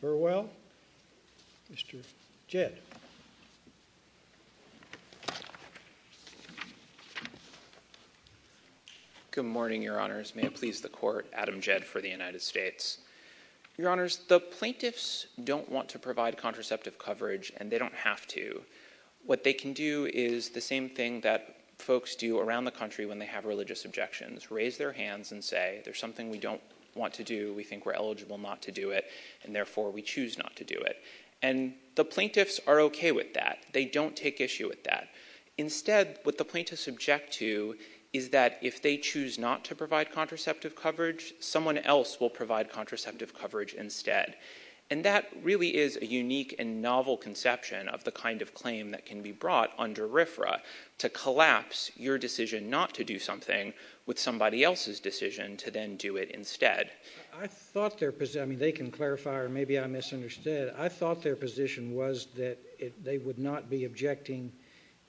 Burwell. Mr. Jed. Good morning, Your Honors. May it please the Court, Adam Jed for the United States. Your Honors, the plaintiffs don't want to provide contraceptive coverage and they don't have to. What they can do is the same thing that folks do around the country when they have religious objections, raise their hands and say, there's something we don't want to do, we think we're eligible not to do it, and therefore we choose not to do it. And the plaintiffs are okay with that. They don't take issue with that. Instead, what the plaintiffs object to is that if they choose not to provide contraceptive coverage, someone else will provide contraceptive coverage instead. And that really is a unique and novel conception of the kind of claim that can be brought under RFRA to collapse your decision not to do something with somebody else's decision to then do it instead. I thought their position, they can clarify or maybe I misunderstood, I thought their position was that they would not be objecting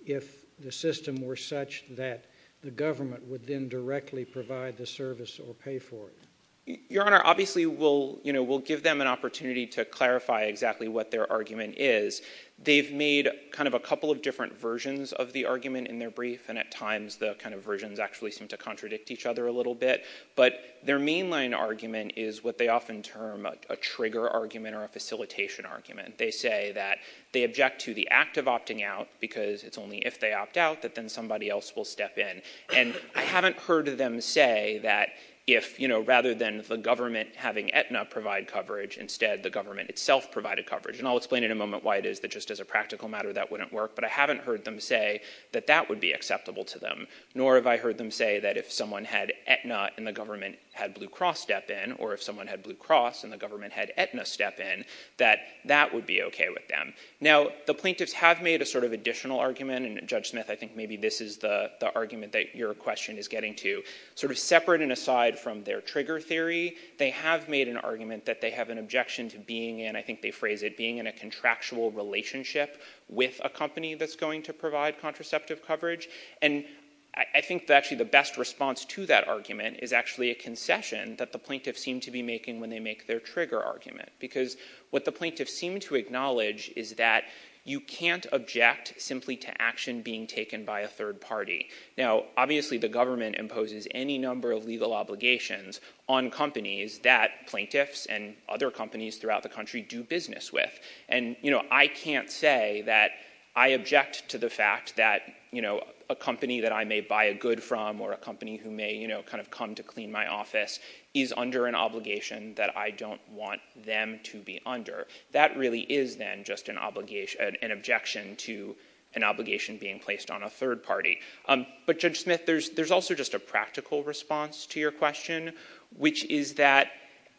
if the system were such that the government would then directly provide the service or pay for it. Your Honor, obviously we'll give them an opportunity to clarify exactly what their argument is. They've made kind of a couple of different versions of the argument in their brief, and at times the kind of versions actually seem to contradict each other a little bit. But their mainline argument is what they often term a trigger argument or a facilitation argument. They say that they object to the act of opting out because it's only if they opt out that then somebody else will step in. And I haven't heard them say that if, you know, rather than the government having Aetna provide coverage, instead the government itself provided coverage. And I'll explain in a moment why it is that just as a practical matter that wouldn't work, but I haven't heard them say that that would be acceptable to them, nor have I heard them say that if someone had Aetna and the government had Blue Cross step in, or if someone had Blue Cross and the government had Aetna step in, that that would be okay with them. Now, the plaintiffs have made a sort of additional argument, and Judge Smith, I think maybe this is the argument that your question is getting to, sort of separate and aside from their trigger theory, they have made an argument that they have an objection to being in, I think they phrase it being in a contractual relationship with a company that's going to provide contraceptive coverage. And I think that actually the best response to that argument is actually a concession that the plaintiffs seem to be making when they make their trigger argument, because what the plaintiffs seem to acknowledge is that you can't object simply to action being taken by a third party. Now, obviously the government imposes any number of legal obligations on companies that plaintiffs and other companies throughout the country do business with. And, you know, I can't say that I object to the fact that, you know, a company that I may buy a good from or a company who may, you know, kind of come to clean my office is under an obligation that I don't want them to be under. That really is then just an obligation, an objection to an obligation being placed on a third party. But Judge Smith, there's also just a practical response to your question, which is that,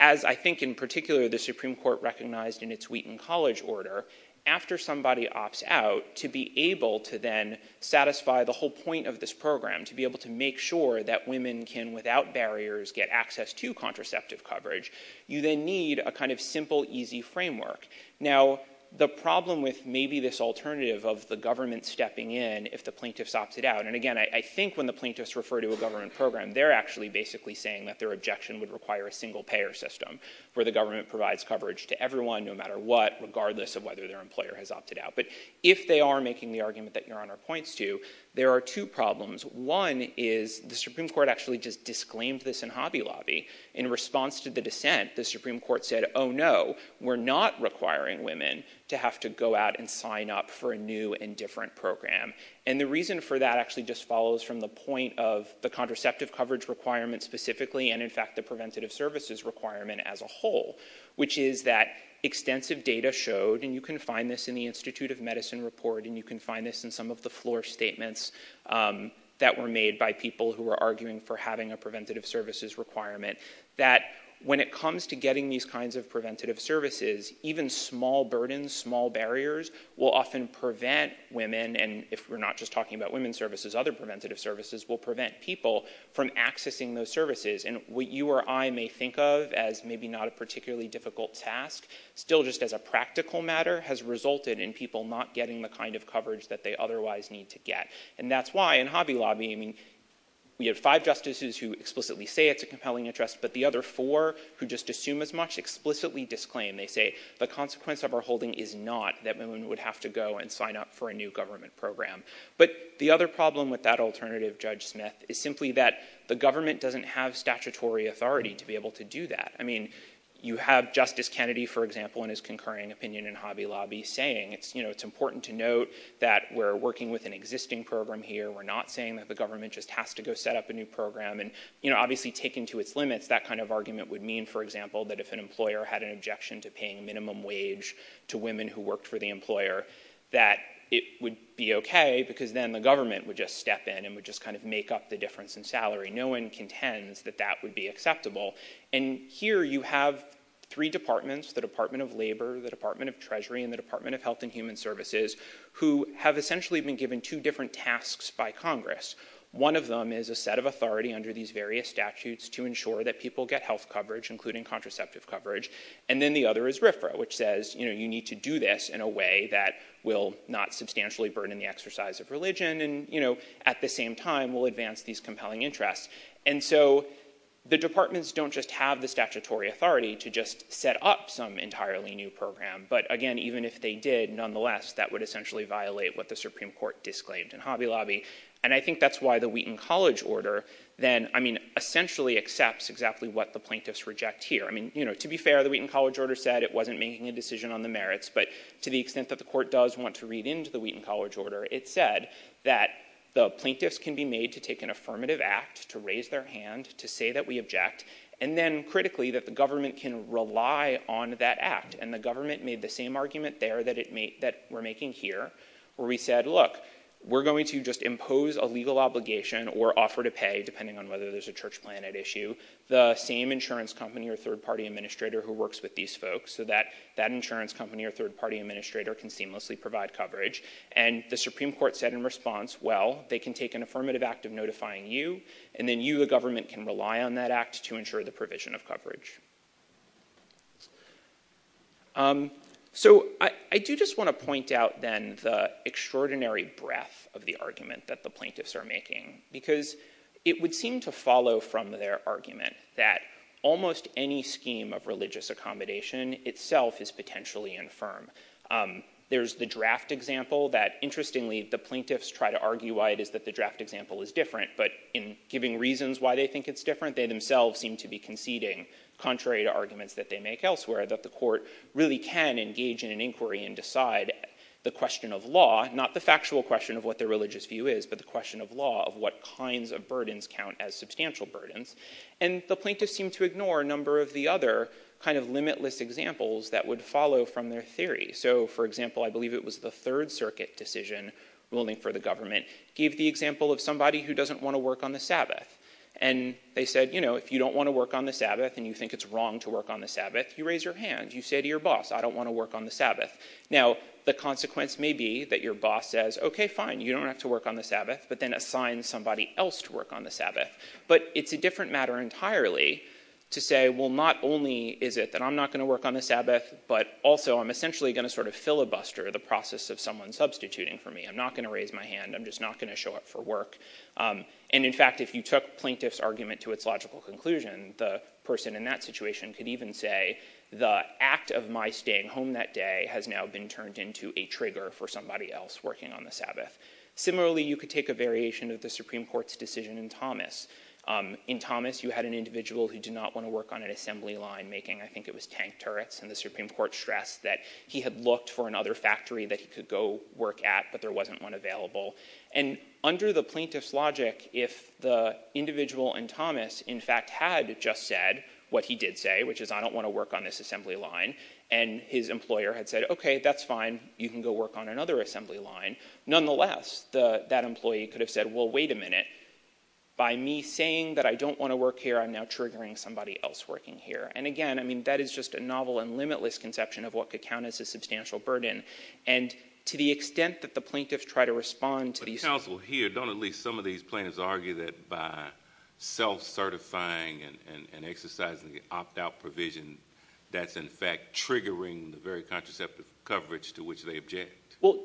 as I think in particular, the Supreme Court recognized in its Wheaton College order, after somebody opts out to be able to then satisfy the whole point of this program, to be able to make sure that women can, without barriers, get access to contraceptive coverage, you then need a kind of simple, easy framework. Now, the problem with maybe this alternative of the government stepping in if the plaintiffs opt it out, and again, I think when the plaintiffs refer to a government program, they're actually basically saying that their objection would require a single payer system where the government provides coverage to everyone, no matter what, regardless of whether their employer has opted out. But if they are making the argument that Your Honor points to, there are two problems. One is the Supreme Court actually just disclaimed this in Hobby Lobby. In response to the dissent, the Supreme Court said, oh, no, we're not requiring women to have to go out and sign up for a new and different program. And the reason for that actually just follows from the point of the contraceptive coverage requirement specifically, and in fact, the preventative services requirement as a whole, which is that extensive data showed, and you can find this in the Institute of Medicine report, and you can find this in some of the floor statements that were made by people who were arguing for having a preventative services requirement, that when it comes to getting these kinds of preventative services, even small burdens, small barriers, will often prevent women, and if we're not just talking about women's services, other preventative services will prevent people from accessing those services. And what you or I may think of as maybe not a particularly difficult task, still just as a practical matter, has resulted in people not getting the kind of coverage that they otherwise need to get. And that's why in Hobby Lobby, we have five justices who explicitly say it's a compelling interest, but the other four who just assume as much explicitly disclaim. They say, the consequence of our holding is not that women would have to go and sign up for a new government program. But the other problem with that alternative, Judge Smith, is simply that the government doesn't have statutory authority to be able to do that. I mean, you have Justice Kennedy, for example, in his concurring opinion in Hobby Lobby saying it's, you know, it's important to note that we're working with an existing program here. We're not saying that the government just has to go set up a new program. And, you know, obviously taken to its limit, that kind of argument would mean, for example, that if an employer had an objection to paying minimum wage to women who worked for the employer, that it would be okay because then the government would just step in and would just kind of make up the difference in salary. No one contends that that would be acceptable. And here you have three departments, the Department of Labor, the Department of Treasury, and the Department of Health and Human Services, who have essentially been given two different tasks by Congress. One of them is a set of authority under these various statutes to ensure that people get health coverage, including contraceptive coverage. And then the other is RFRA, which says, you know, you need to do this in a way that will not substantially burden the exercise of religion and, you know, at the same time will advance these compelling interests. And so the departments don't just have the statutory authority to just set up some entirely new program. But again, even if they did, nonetheless, that would essentially violate what the Supreme Court disclaimed in Hobby Lobby. And I think that's why the Wheaton College order then, I mean, essentially accepts exactly what the plaintiffs reject here. I mean, you know, to be fair, the Wheaton College order said it wasn't making a decision on the merits. But to the extent that the court does want to read into the Wheaton College order, it said that the plaintiffs can be made to take an affirmative act, to raise their hand, to say that we object, and then critically that the government can rely on that act. And the government made the same argument there that it made, that we're making here, where we said, look, we're going to just impose a legal obligation or offer to pay, depending on whether there's a church plan at issue, the same insurance company or third party administrator who works with these folks so that that insurance company or third party administrator can seamlessly provide coverage. And the Supreme Court said in response, well, they can take an affirmative act of notifying you, and then you, the government, can rely on that act to ensure the provision of coverage. So I do just want to point out then the because it would seem to follow from their argument that almost any scheme of religious accommodation itself is potentially infirm. There's the draft example that, interestingly, the plaintiffs try to argue why it is that the draft example is different, but in giving reasons why they think it's different, they themselves seem to be conceding, contrary to arguments that they make elsewhere, that the court really can engage in an inquiry and decide the question of law of what kinds of burdens count as substantial burdens. And the plaintiffs seem to ignore a number of the other kind of limitless examples that would follow from their theory. So, for example, I believe it was the Third Circuit decision ruling for the government gave the example of somebody who doesn't want to work on the Sabbath. And they said, you know, if you don't want to work on the Sabbath and you think it's wrong to work on the Sabbath, you raise your hand, you say to your boss, I don't want to work on the Sabbath. Now, the consequence may be that your boss says, okay, fine, you don't have to work on the Sabbath, but then assign somebody else to work on the Sabbath. But it's a different matter entirely to say, well, not only is it that I'm not going to work on the Sabbath, but also I'm essentially going to sort of filibuster the process of someone substituting for me. I'm not going to raise my hand. I'm just not going to show up for work. And, in fact, if you took plaintiff's argument to its logical conclusion, the person in that situation could even say the act of my staying home that day has now been turned into a trigger for somebody else working on the Sabbath. Similarly, you could take a variation of the Supreme Court's decision in Thomas. In Thomas, you had an individual who did not want to work on an assembly line making, I think it was tank turrets, and the Supreme Court stressed that he had looked for another factory that he could go work at, but there wasn't one available. And under the plaintiff's logic, if the individual in Thomas, in fact, had just said what he did say, which is I don't want to work on this assembly line, and his employer had said, okay, that's fine, you can go work on another assembly line. Nonetheless, that employee could have said, well, wait a minute, by me saying that I don't want to work here, I'm now triggering somebody else working here. And, again, I mean, that is just a novel and limitless conception of what could count as a substantial burden. And to the extent that the plaintiffs try to respond to these- But the counsel here, don't at least some of these plaintiffs argue that by self-certifying and exercising the opt-out provision, that's, in fact, triggering the coverage to which they object?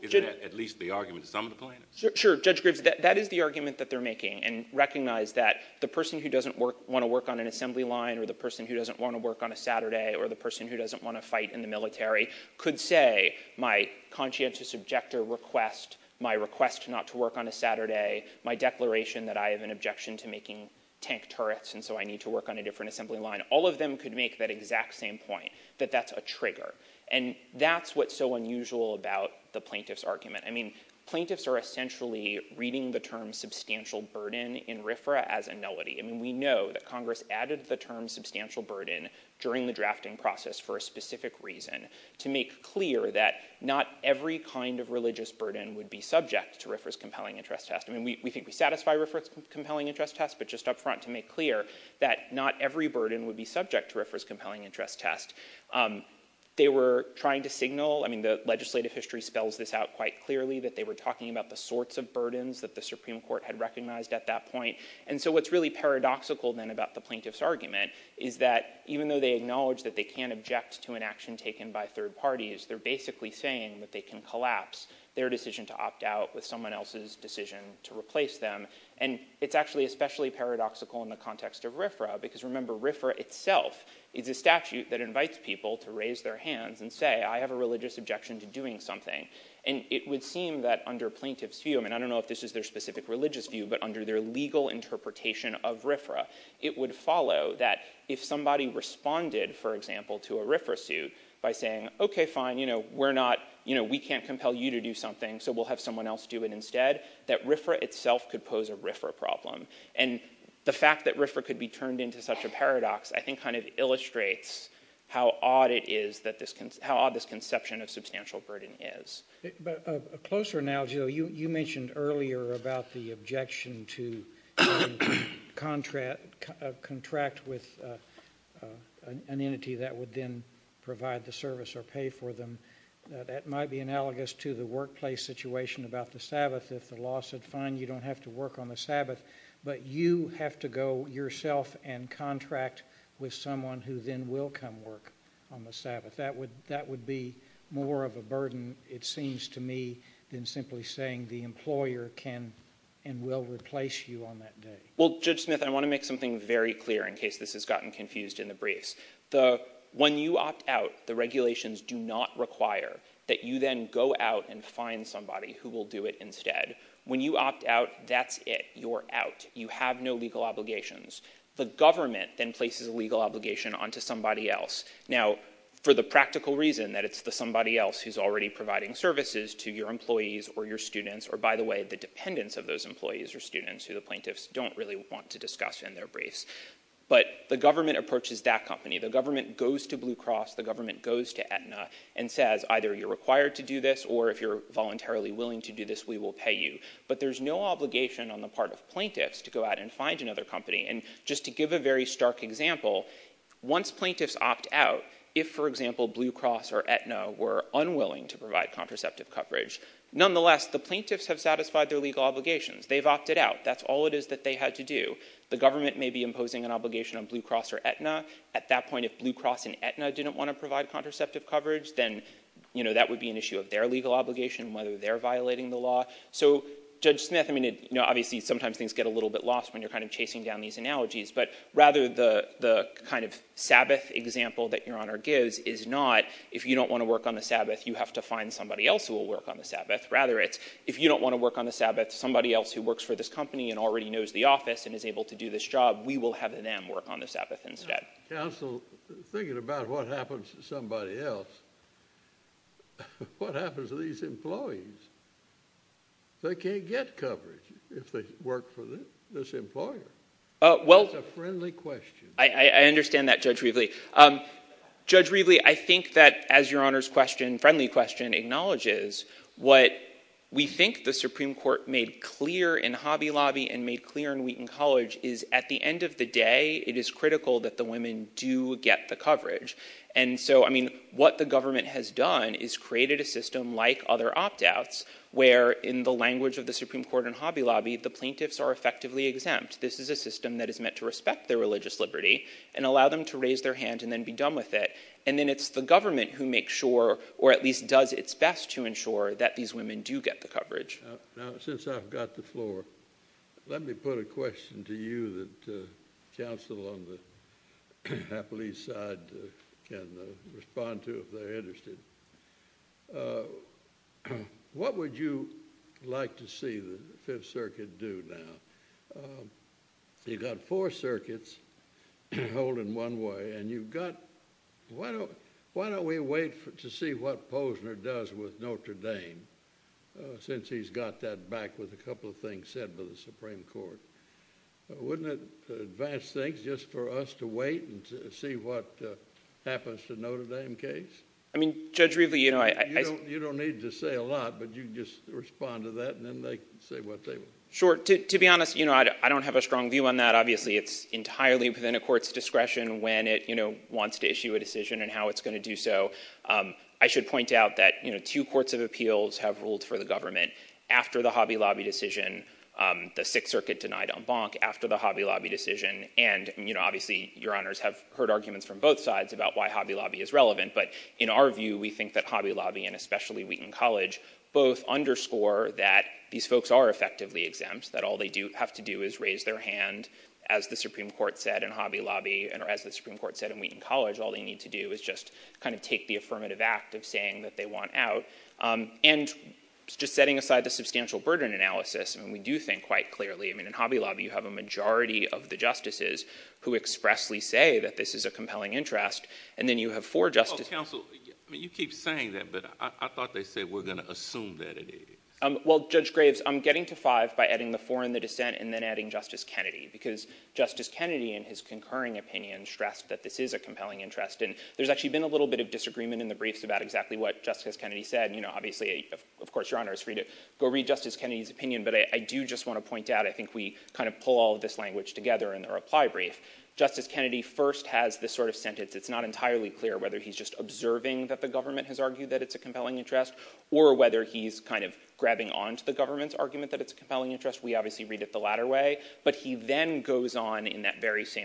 Is that at least the argument of some of the plaintiffs? Sure, Judge Graves, that is the argument that they're making, and recognize that the person who doesn't want to work on an assembly line, or the person who doesn't want to work on a Saturday, or the person who doesn't want to fight in the military, could say my conscientious objector request, my request not to work on a Saturday, my declaration that I have an objection to making tank turrets, and so I need to work on a different assembly line, all of them could make that exact same point, that that's a trigger. And that's what's so unusual about the plaintiff's argument. I mean, plaintiffs are essentially reading the term substantial burden in RFRA as a nullity. I mean, we know that Congress added the term substantial burden during the drafting process for a specific reason, to make clear that not every kind of religious burden would be subject to RFRA's compelling interest test. I mean, we think we satisfy RFRA's compelling interest test, but just upfront to make clear that not every burden would be subject to RFRA's compelling interest test. They were trying to signal, I mean, the legislative history spells this out quite clearly, that they were talking about the sorts of burdens that the Supreme Court had recognized at that point. And so what's really paradoxical then about the plaintiff's argument is that even though they acknowledge that they can't object to an action taken by third parties, they're basically saying that they can collapse their decision to opt out with someone else's decision to replace them. And it's actually especially paradoxical in the context of RFRA, because remember, RFRA itself is a statute that invites people to raise their hands and say, I have a religious objection to doing something. And it would seem that under plaintiff's view, I mean, I don't know if this is their specific religious view, but under their legal interpretation of RFRA, it would follow that if somebody responded, for example, to a RFRA suit by saying, okay, fine, you know, we're not, you know, we can't compel you to do something, so we'll have someone else do it instead, that RFRA itself could pose a RFRA problem. And the fact that RFRA could be turned into such a paradox, I think kind of illustrates how odd it is, how odd this conception of substantial burden is. But closer now, Joe, you mentioned earlier about the objection to contract with an entity that would then provide the service or pay for them. That might be analogous to the workplace situation about the Sabbath. If the law said, fine, you don't have to work on the Sabbath, but you have to go yourself and contract with someone who then will come work on the Sabbath, that would be more of a burden, it seems to me, than simply saying the employer can and will replace you on that day. Well, Judge Smith, I want to make something very clear in case this has gotten confused in the briefs. When you opt out, the regulations do not require that you then go out and find somebody who will do it instead. When you opt out, that's it, you're out. You have no legal obligations. The government then places a legal obligation onto somebody else. Now, for the practical reason that it's the somebody else who's already providing services to your employees or your students, or by the way, the dependents of those employees or students who the plaintiffs don't really want to discuss in their briefs. But the government approaches that company. The government goes to Blue Cross. The government goes to Aetna and says, either you're required to do this, or if you're voluntarily willing to do this, we will pay you. But there's no obligation on the part of plaintiffs to go out and find another company. And just to give a very stark example, once plaintiffs opt out, if, for example, Blue Cross or Aetna were unwilling to provide contraceptive coverage, nonetheless, the plaintiffs have satisfied their legal obligations. They've opted out. That's all it is that they had to do. The government may be imposing an obligation on Blue Cross or Aetna. At that point, if Blue Cross and Aetna didn't want to provide contraceptive coverage, then that would be an issue of their So Judge Smith, I mean, obviously, sometimes things get a little bit lost when you're kind of chasing down these analogies. But rather, the kind of Sabbath example that Your Honor gives is not, if you don't want to work on the Sabbath, you have to find somebody else who will work on the Sabbath. Rather, it's, if you don't want to work on the Sabbath, somebody else who works for this company and already knows the office and is able to do this job, we will have them work on the Sabbath instead. Counsel, thinking about what happens to somebody else. What happens to these employees? They can't get coverage if they work for this employer. Well, I understand that, Judge Weaveley. Judge Weaveley, I think that, as Your Honor's question, friendly question, acknowledges what we think the Supreme Court made clear in Hobby Lobby and made clear in Wheaton College is at the end of the day, it is critical that the women do get the coverage. And so, I mean, what the government has done is created a system like other opt-outs, where in the language of the Supreme Court in Hobby Lobby, the plaintiffs are effectively exempt. This is a system that is meant to respect their religious liberty and allow them to raise their hand and then be done with it. And then it's the government who makes sure or at least does its best to ensure that these women do get the coverage. Now, since I've got the floor, let me put a question to you that counsel on the happily side can respond to if they're interested. What would you like to see the Fifth Circuit do now? You've got four circuits holding one way and you've got, well, why don't we wait to see what Posner does with Notre Dame since he's got that back with a couple of things said by the Supreme Court. Wouldn't it advance things just for us to wait and to see what happens to Notre Dame case? I mean, Judge, really, you don't need to say a lot, but you just respond to that and then they say what they want. Sure. To be honest, I don't have a strong view on that. Obviously, it's entirely within a court's discretion when it wants to issue a decision and how it's going to do so. I should point out that two courts of appeals have ruled for the government after the Hobby Lobby decision, the Sixth Circuit denied on Bonk after the Hobby Lobby decision. And obviously, your honors have heard arguments from both sides about why Hobby Lobby is relevant. But in our view, we think that Hobby Lobby and especially Wheaton College both underscore that these folks are effectively exempt, that all they do have to do is raise their hand, as the Supreme Court said in Hobby Lobby, and as the Supreme Court said in Wheaton College, all they need to do is just kind of take the affirmative act of saying that they want out. And just setting aside the substantial burden analysis, and we do think quite clearly, I mean, in Hobby Lobby, you have a majority of the justices who expressly say that this is a compelling interest. And then you have four justices... Counsel, you keep saying that, but I thought they said we're going to assume that it is. Well, Judge Graves, I'm getting to five by adding the four in the concurring opinion, stressed that this is a compelling interest. And there's actually been a little bit of disagreement in the briefs about exactly what Justice Kennedy said. Obviously, of course, your honor is free to go read Justice Kennedy's opinion. But I do just want to point out, I think we kind of pull all this language together in the reply brief. Justice Kennedy first has this sort of sentence. It's not entirely clear whether he's just observing that the government has argued that it's a compelling interest, or whether he's kind of grabbing onto the government's argument that it's a compelling interest. We obviously read it the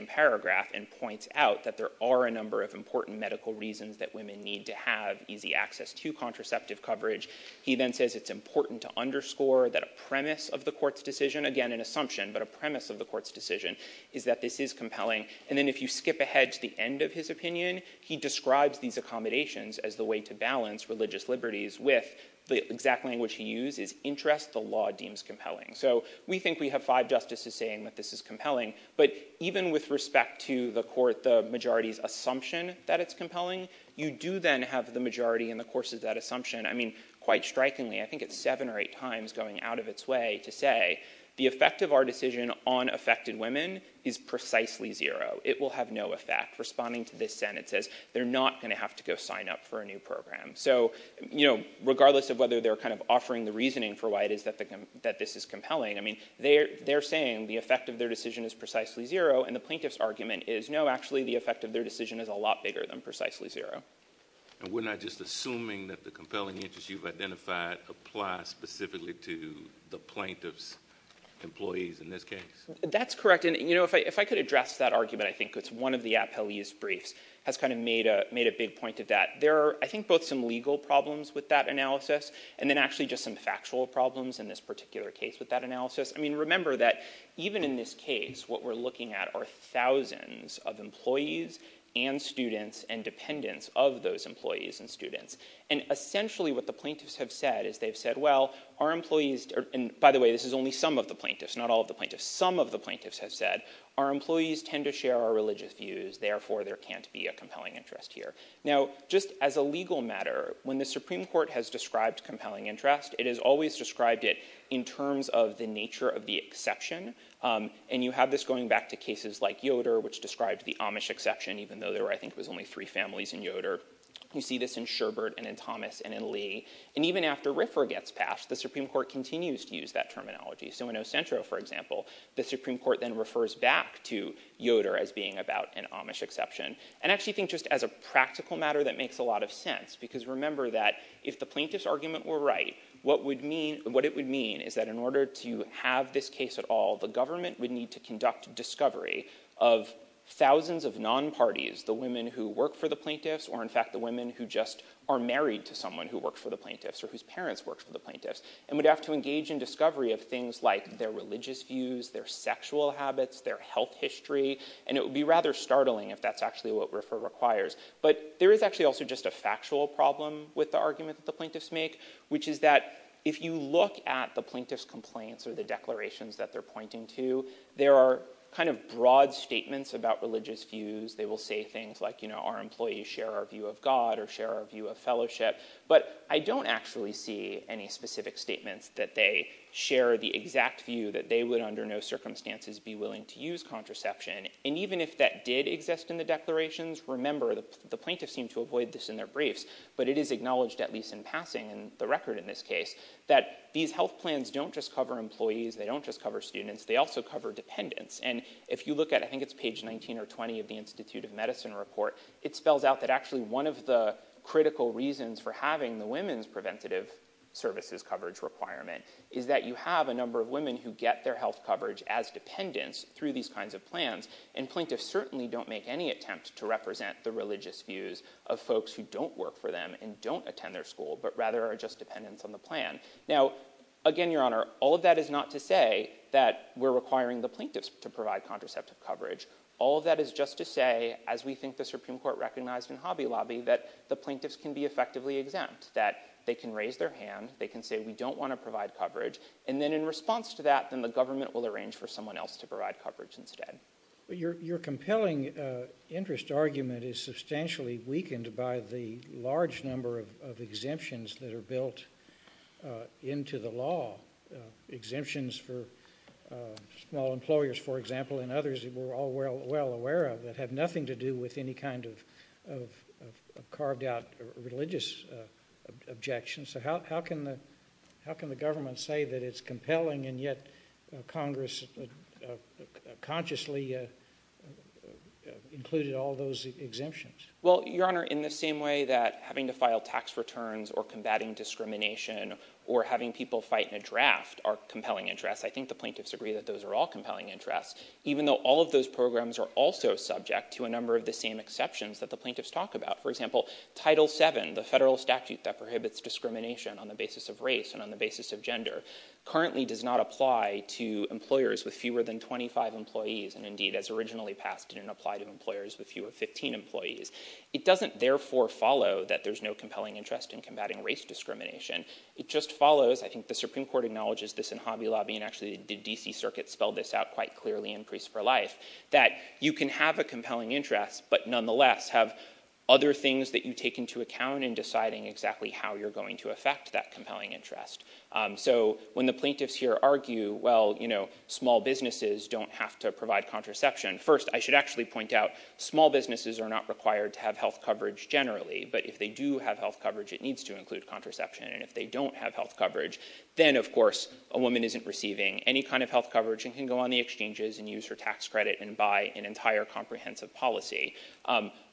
paragraph and point out that there are a number of important medical reasons that women need to have easy access to contraceptive coverage. He then says it's important to underscore that a premise of the court's decision, again, an assumption, but a premise of the court's decision is that this is compelling. And then if you skip ahead to the end of his opinion, he describes these accommodations as the way to balance religious liberties with the exact language he used is interest the law deems compelling. So we think we have five justices saying that this is compelling. But even with respect to the court, the majority's assumption that it's compelling, you do then have the majority in the course is that assumption. I mean, quite strikingly, I think it's seven or eight times going out of its way to say, the effect of our decision on affected women is precisely zero, it will have no effect responding to this sentence, they're not going to have to go sign up for a new program. So, you know, regardless of whether they're kind of offering the reasoning for why it is that that this is effective, their decision is precisely zero. And the plaintiff's argument is no, actually, the effect of their decision is a lot bigger than precisely zero. And we're not just assuming that the compelling interest you've identified applies specifically to the plaintiff's employees in this case. That's correct. And, you know, if I could address that argument, I think it's one of the appellee's briefs has kind of made a made a big point that there are, I think, both some legal problems with that analysis, and then actually just some factual problems in this particular case with that case, what we're looking at are thousands of employees, and students and dependents of those employees and students. And essentially, what the plaintiffs have said is they've said, well, our employees, and by the way, this is only some of the plaintiffs, not all the plaintiffs, some of the plaintiffs have said, our employees tend to share our religious views, therefore, there can't be a compelling interest here. Now, just as a legal matter, when the Supreme Court has described the exception, and you have this going back to cases like Yoder, which describes the Amish exception, even though there, I think, was only three families in Yoder. You see this in Sherbert and in Thomas and in Lee. And even after Ripper gets passed, the Supreme Court continues to use that terminology. So in Ocentro, for example, the Supreme Court then refers back to Yoder as being about an Amish exception. And I actually think just as a practical matter, that makes a lot of sense. Because remember that if the plaintiff's argument were right, what it would mean is that in order to have this case at all, the government would need to conduct discovery of thousands of non-parties, the women who work for the plaintiffs, or in fact, the women who just are married to someone who works for the plaintiffs or whose parents work for the plaintiffs, and would have to engage in discovery of things like their religious views, their sexual habits, their health history. And it would be rather startling if that's actually what Ripper requires. But there is actually also just a factual problem with the argument that the plaintiffs make, which is that if you look at the plaintiff's complaints or the declarations that they're pointing to, there are kind of broad statements about religious views. They will say things like, you know, our employees share our view of God or share our view of fellowship. But I don't actually see any specific statements that they share the exact view that they would under no circumstances be willing to use contraception. And even if that did exist in the declarations, remember, the plaintiffs seem to avoid this in their briefs. But it is acknowledged, at least in passing, the record in this case, that these health plans don't just cover employees, they don't just cover students, they also cover dependents. And if you look at I think it's page 19 or 20 of the Institute of Medicine report, it spells out that actually one of the critical reasons for having the women's preventative services coverage requirement is that you have a number of women who get their health coverage as dependents through these kinds of plans. And plaintiffs certainly don't make any attempt to represent the religious views of folks who don't work for them and don't attend their school, but rather are just dependents on the plan. Now, again, Your Honor, all of that is not to say that we're requiring the plaintiffs to provide contraceptive coverage. All that is just to say, as we think the Supreme Court recognized in Hobby Lobby, that the plaintiffs can be effectively exempt, that they can raise their hand, they can say we don't want to provide coverage. And then in response to that, then the government will arrange for someone else to provide coverage instead. Your compelling interest argument is substantially weakened by the large number of exemptions that are built into the law. Exemptions for small employers, for example, and others that we're all well aware of that have nothing to do with any kind of carved out religious objections. So how can the government say that it's compelling and yet Congress consciously included all those exemptions? Well, Your Honor, in the same way that having to or combating discrimination or having people fight in a draft are compelling interests, I think the plaintiffs agree that those are all compelling interests, even though all of those programs are also subject to a number of the same exceptions that the plaintiffs talk about. For example, Title VII, the federal statute that prohibits discrimination on the basis of race and on the basis of gender, currently does not apply to employers with fewer than 25 employees and indeed, as originally passed, didn't apply to employers with fewer than 15 employees. It doesn't therefore follow that there's no compelling interest in combating race discrimination. It just follows, I think the Supreme Court acknowledges this in Hobby Lobby and actually the D.C. Circuit spelled this out quite clearly in Grease for Life, that you can have a compelling interest but nonetheless have other things that you take into account in deciding exactly how you're going to affect that compelling interest. So when the plaintiffs here argue, well, you know, small businesses don't have to provide contraception. First, I should actually point out small businesses are not required to have health coverage generally. But if they do have health coverage, it needs to include contraception. And if they don't have health coverage, then, of course, a woman isn't receiving any kind of health coverage and can go on the exchanges and use her tax credit and buy an entire comprehensive policy.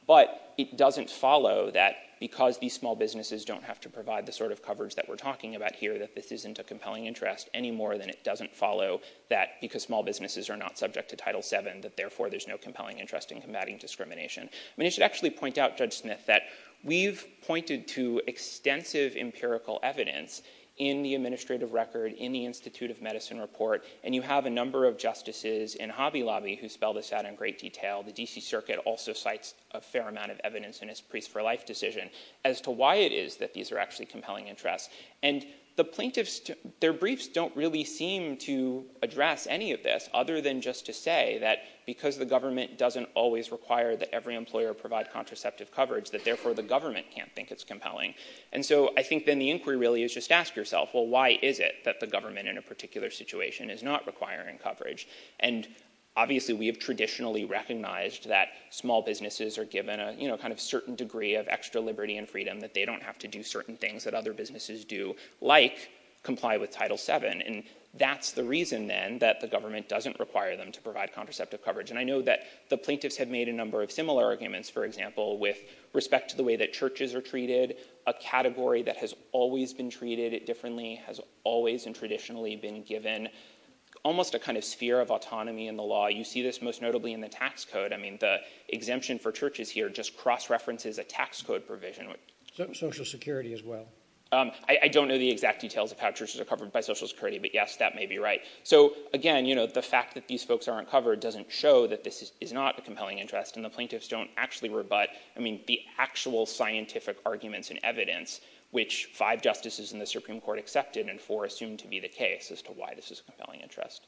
But it doesn't follow that because these small businesses don't have to provide the sort of coverage that we're talking about here, that this isn't a compelling interest any more than it doesn't follow that because small businesses are not subject to Title VII that, therefore, there's no compelling interest in combating discrimination. I mean, I should actually point out, Judge Smith, that we've pointed to extensive empirical evidence in the administrative record, in the Institute of Medicine report, and you have a number of justices in Hobby Lobby who spelled this out in great detail. The D.C. Circuit also cites a fair amount of evidence in its Grease for Life decision as to why it is that these are actually compelling interests. And the plaintiffs, their briefs don't really seem to just to say that because the government doesn't always require that every employer provide contraceptive coverage, that, therefore, the government can't think it's compelling. And so I think, then, the inquiry really is just ask yourself, well, why is it that the government in a particular situation is not requiring coverage? And obviously, we have traditionally recognized that small businesses are given a kind of certain degree of extra liberty and freedom that they don't have to do certain things that other businesses do, like comply with Title VII. And that's the reason, then, that the government doesn't require them to provide contraceptive coverage. And I know that the plaintiffs have made a number of similar arguments, for example, with respect to the way that churches are treated, a category that has always been treated differently, has always and traditionally been given almost a kind of sphere of autonomy in the law. You see this most notably in the tax code. I mean, the exemption for churches here just cross-references a tax code provision. Social Security as well. I don't know the exact details of how churches are covered by Social Security, but yes, that may be right. So again, the fact that these folks aren't covered doesn't show that this is not a compelling interest. And the plaintiffs don't actually rebut the actual scientific arguments and evidence, which five justices in the Supreme Court accepted and four assumed to be the case as to why this is a compelling interest.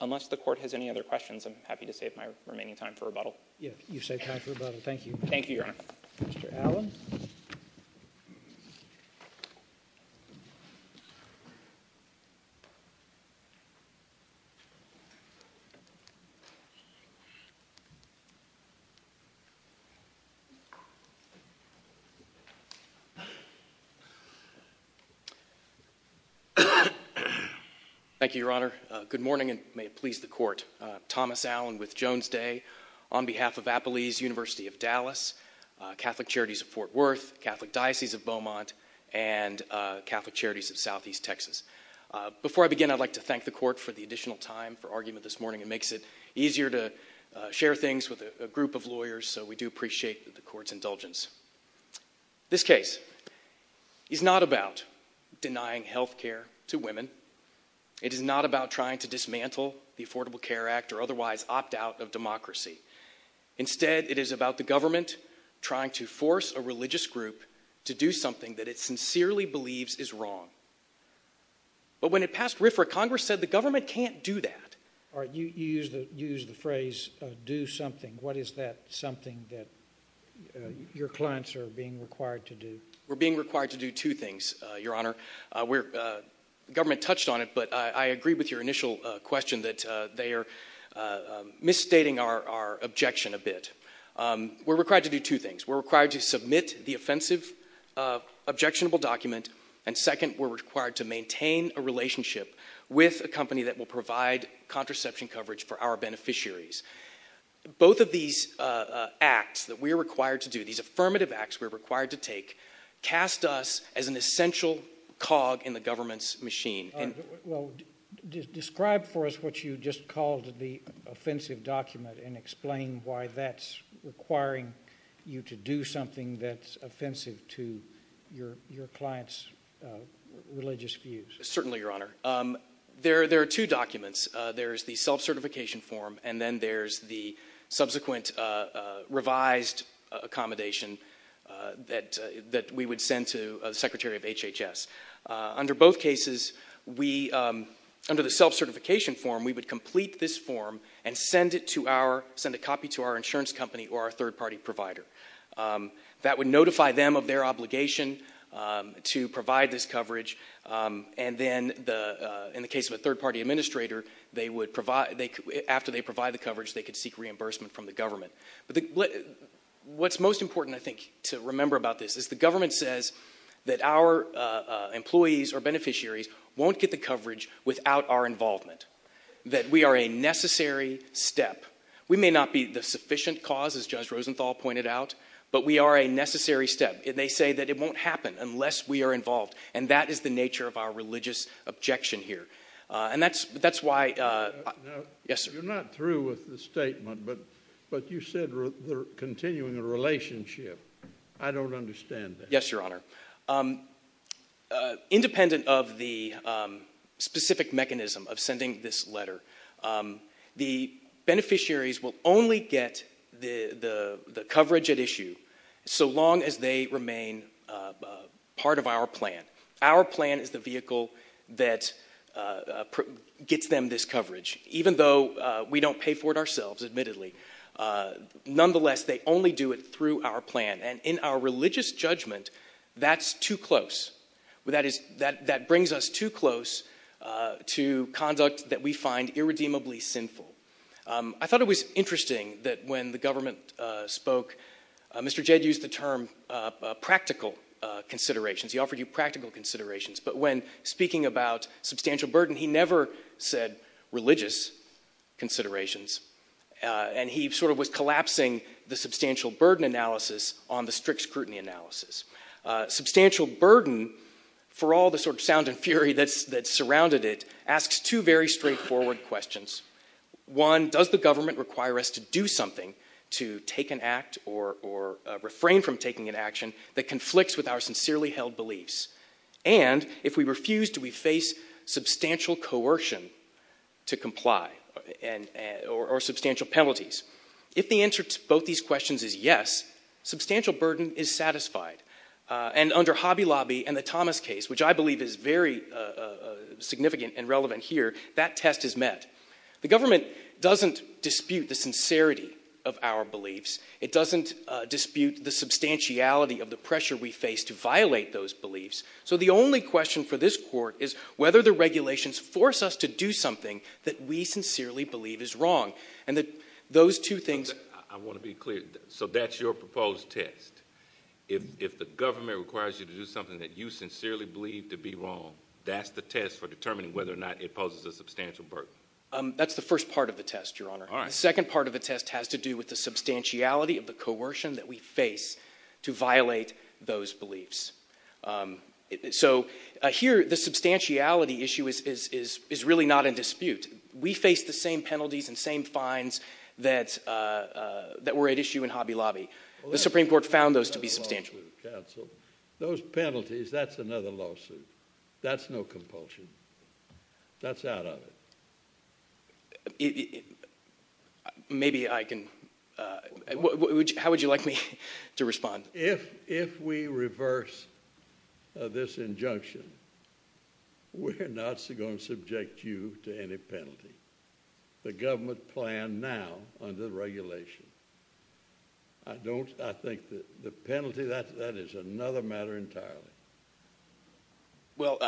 Unless the Court has any other questions, I'm happy to save my remaining time for rebuttal. Yes, you've saved time for rebuttal. Thank you. Thank you, Your Honor. Mr. Allen. Thank you, Your Honor. Good morning, and may it please the Court. Thomas Allen with Jones Day on behalf of Appalese University of Dallas, Catholic Charities of Fort Worth, Catholic Diocese of Beaumont, and Catholic Charities of Southeast Texas. Before I begin, I'd like to thank the Court for the additional time for argument this morning. It makes it easier to share things with a group of lawyers, so we do appreciate the Court's indulgence. This case is not about denying health care to women. It is not about trying to dismantle the Affordable Care Act or otherwise opt out of democracy. Instead, it is about the government trying to force a religious group to do something that it sincerely believes is wrong. But when it passed RFRA, Congress said the government can't do that. All right, you used the phrase of do something. What is that something that your clients are being required to do? We're being required to do two things, Your Honor. The government touched on it, but I agree with your initial question that they are misstating our objection a bit. We're required to do two things. We're required to submit the offensive objectionable document, and second, we're required to maintain a relationship with a company that will provide contraception coverage for our beneficiaries. Both of these acts that we're required to do, these affirmative acts we're required to take, cast us as an essential cog in the government's machine. Well, describe for us what you just called the offensive document and explain why that's requiring you to do something that's offensive to your client's religious views. Certainly, Your Honor. There are two documents. There's the self-certification form, and then there's the subsequent revised accommodation that we would send to the Secretary of HHS. Under both cases, under the self-certification form, we would complete this form and send a copy to our insurance company or our third-party provider. That would notify them of their obligation to provide this coverage, and then in the case of a third-party administrator, after they provide the coverage, they could seek reimbursement from the government. What's most important, I think, to remember about this is the government says that our employees or beneficiaries won't get the coverage without our involvement, that we are a necessary step. We may not be the sufficient cause, as Judge Rosenthal pointed out, but we are a necessary step. It may say that it won't happen unless we are involved, and that is the nature of our religious objection here. You're not through with the statement, but you said we're continuing the relationship. I don't understand that. Yes, Your Honor. Independent of the specific mechanism of sending this letter, the beneficiaries will only get the coverage at issue so long as they remain part of our plan. Our plan is the vehicle that gets them this coverage, even though we don't pay for it and in our religious judgment, that's too close. That brings us too close to conduct that we find irredeemably sinful. I thought it was interesting that when the government spoke, Mr. Jed used the term practical considerations. He offered you practical considerations, but when speaking about substantial burden, he never said religious considerations, and he sort of was collapsing the substantial burden analysis on the strict scrutiny analysis. Substantial burden, for all the sort of sound and fury that surrounded it, asks two very straightforward questions. One, does the government require us to do something to take an act or refrain from taking an action that conflicts with our sincerely held beliefs? And if we refuse, do we face substantial coercion to comply or substantial penalties? If the answer to both these questions is yes, substantial burden is satisfied, and under Hobby Lobby and the Thomas case, which I believe is very significant and relevant here, that test is met. The government doesn't dispute the sincerity of our beliefs. It doesn't dispute the substantiality of the pressure we face to violate those beliefs. So the only question for this court is whether the regulations force us to do something that we sincerely believe is wrong. I want to be clear. So that's your proposed test. If the government requires you to do something that you sincerely believe to be wrong, that's the test for determining whether or not it poses a substantial burden. That's the first part of the test, Your Honor. The second part of the test has to do with the substantiality of the coercion that we face to violate those beliefs. So here, the substantiality issue is really not in dispute. We face the same penalties and same fines that were at issue in Hobby Lobby. The Supreme Court found those to be substantial. Those penalties, that's another lawsuit. That's no compulsion. That's out of it. How would you like me to respond? If we reverse this injunction, we're not going to subject you to any penalty. The government plan now under the regulation. I think the penalty, that is another matter entirely. Well,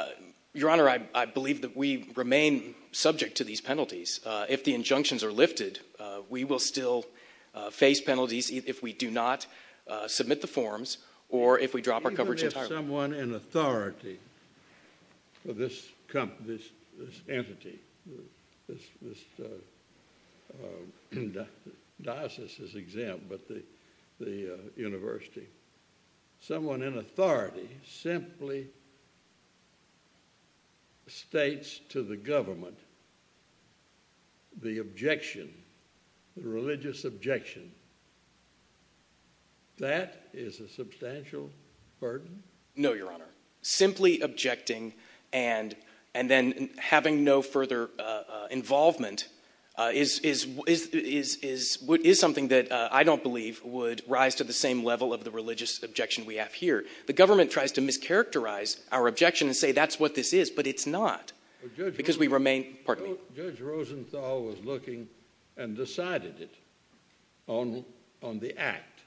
Your Honor, I believe that we remain subject to these penalties. If the injunctions are lifted, we will still face penalties if we do not submit the forms or if we drop our coverage. Even if someone in authority, this entity, this diocese is exempt, but the government simply states to the government the objection, the religious objection, that is a substantial burden? No, Your Honor. Simply objecting and then having no further involvement is something that I don't believe would rise to the same level of the religious objection we have here. The government tries to mischaracterize our objection and say that's what this is, but it's not because we remain. Judge Rosenthal was looking and decided it on the act,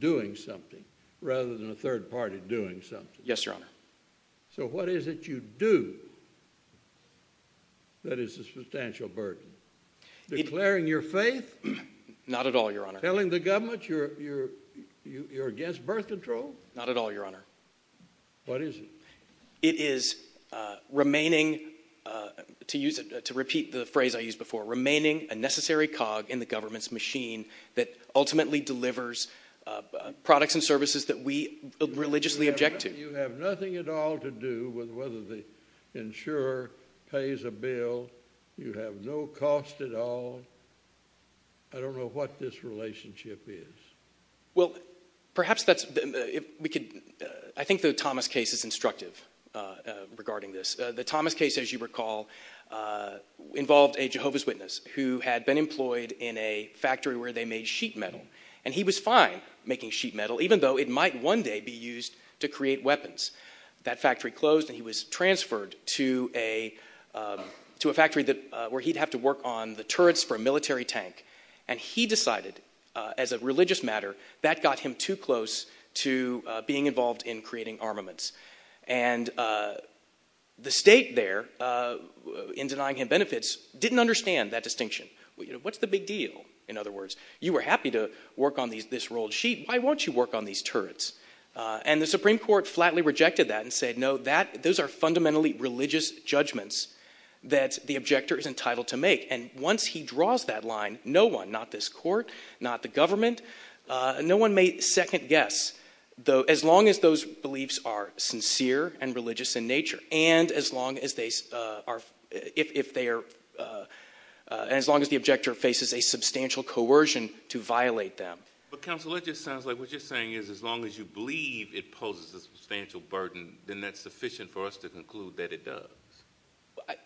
doing something, rather than a third party doing something. Yes, Your Honor. So what is it you do that is a substantial burden? Declaring your faith? Not at all, Your Honor. Telling the government you're against birth control? Not at all, Your Honor. What is it? It is remaining, to repeat the phrase I used before, remaining a necessary cog in the government's machine that ultimately delivers products and services that we religiously object to. You have nothing at all to do with whether the insurer pays a bill. You have no cost at all. I don't know what this relationship is. Well, I think the Thomas case is instructive regarding this. The Thomas case, as you recall, involved a Jehovah's Witness who had been employed in a factory where they made sheet metal, and he was fine making sheet metal even though it might one day be used to create weapons. That factory closed and he was transferred to a factory where he'd have to work on the turrets for a military tank, and he decided, as a religious matter, that got him too close to being involved in creating armaments. And the state there, in denying him benefits, didn't understand that distinction. What's the big deal? In other words, you were happy to work on this rolled sheet. Why won't you work on these turrets? And the Supreme Court flatly rejected that and said, no, those are fundamentally religious judgments that the objector is entitled to make. And once he draws that line, no one, not this court, not the government, no one made second guess, as long as those beliefs are sincere and religious in nature, and as long as the objector faces a substantial coercion to violate them. But Counselor, it just sounds like what you're saying is as long as you believe it poses a substantial burden, then that's sufficient for us to conclude that it does. Well,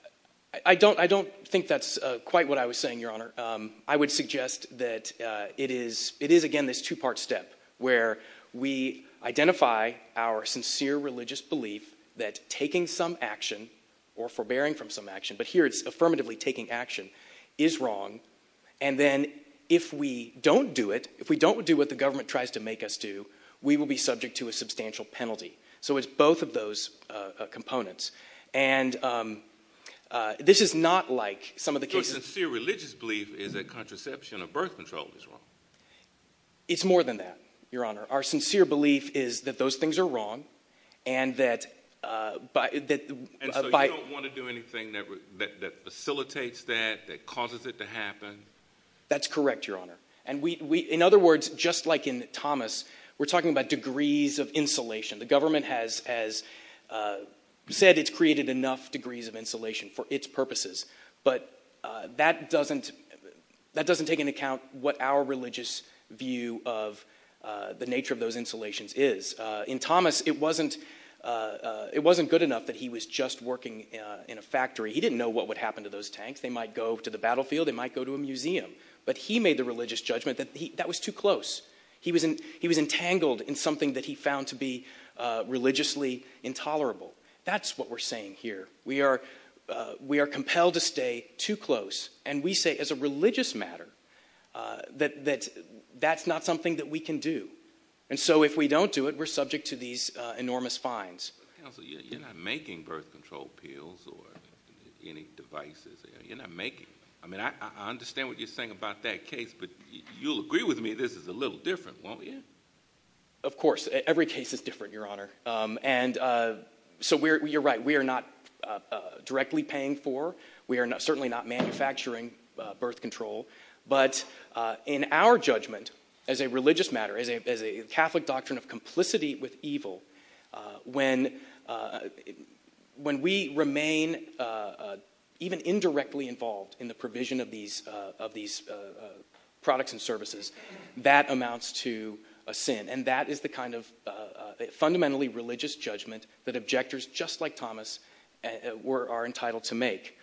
I don't think that's quite what I was saying, Your Honor. I would suggest that it is, again, this two-part step where we identify our sincere religious belief that taking some action or forbearing from some action, but here it's affirmatively taking action, is wrong. And then if we don't do it, if we don't do what the government tries to make us do, we will be condemned. Your sincere religious belief is that contraception or birth control is wrong? It's more than that, Your Honor. Our sincere belief is that those things are wrong. And so you don't want to do anything that facilitates that, that causes it to happen? That's correct, Your Honor. In other words, just like in Thomas, we're talking about degrees of insulation for its purposes. But that doesn't take into account what our religious view of the nature of those insulations is. In Thomas, it wasn't good enough that he was just working in a factory. He didn't know what would happen to those tanks. They might go to the battlefield, they might go to a museum. But he made the religious judgment that that was too close. He was entangled in something that he found to be religiously intolerable. That's what we're saying here. We are compelled to stay too close. And we say, as a religious matter, that that's not something that we can do. And so if we don't do it, we're subject to these enormous fines. Counsel, you're not making birth control pills or any devices. You're not making them. I mean, I understand what you're saying about that case, but you'll agree with me this is a little different, won't you? Of course, every case is different, Your Honor. And so you're right, we are not directly paying for, we are certainly not manufacturing birth control. But in our judgment as a religious matter, as a Catholic doctrine of complicity with evil, when we remain even indirectly involved in the provision of these products and services, that amounts to a sin. And that is the kind of fundamentally religious judgment that objectors just like Thomas are entitled to make.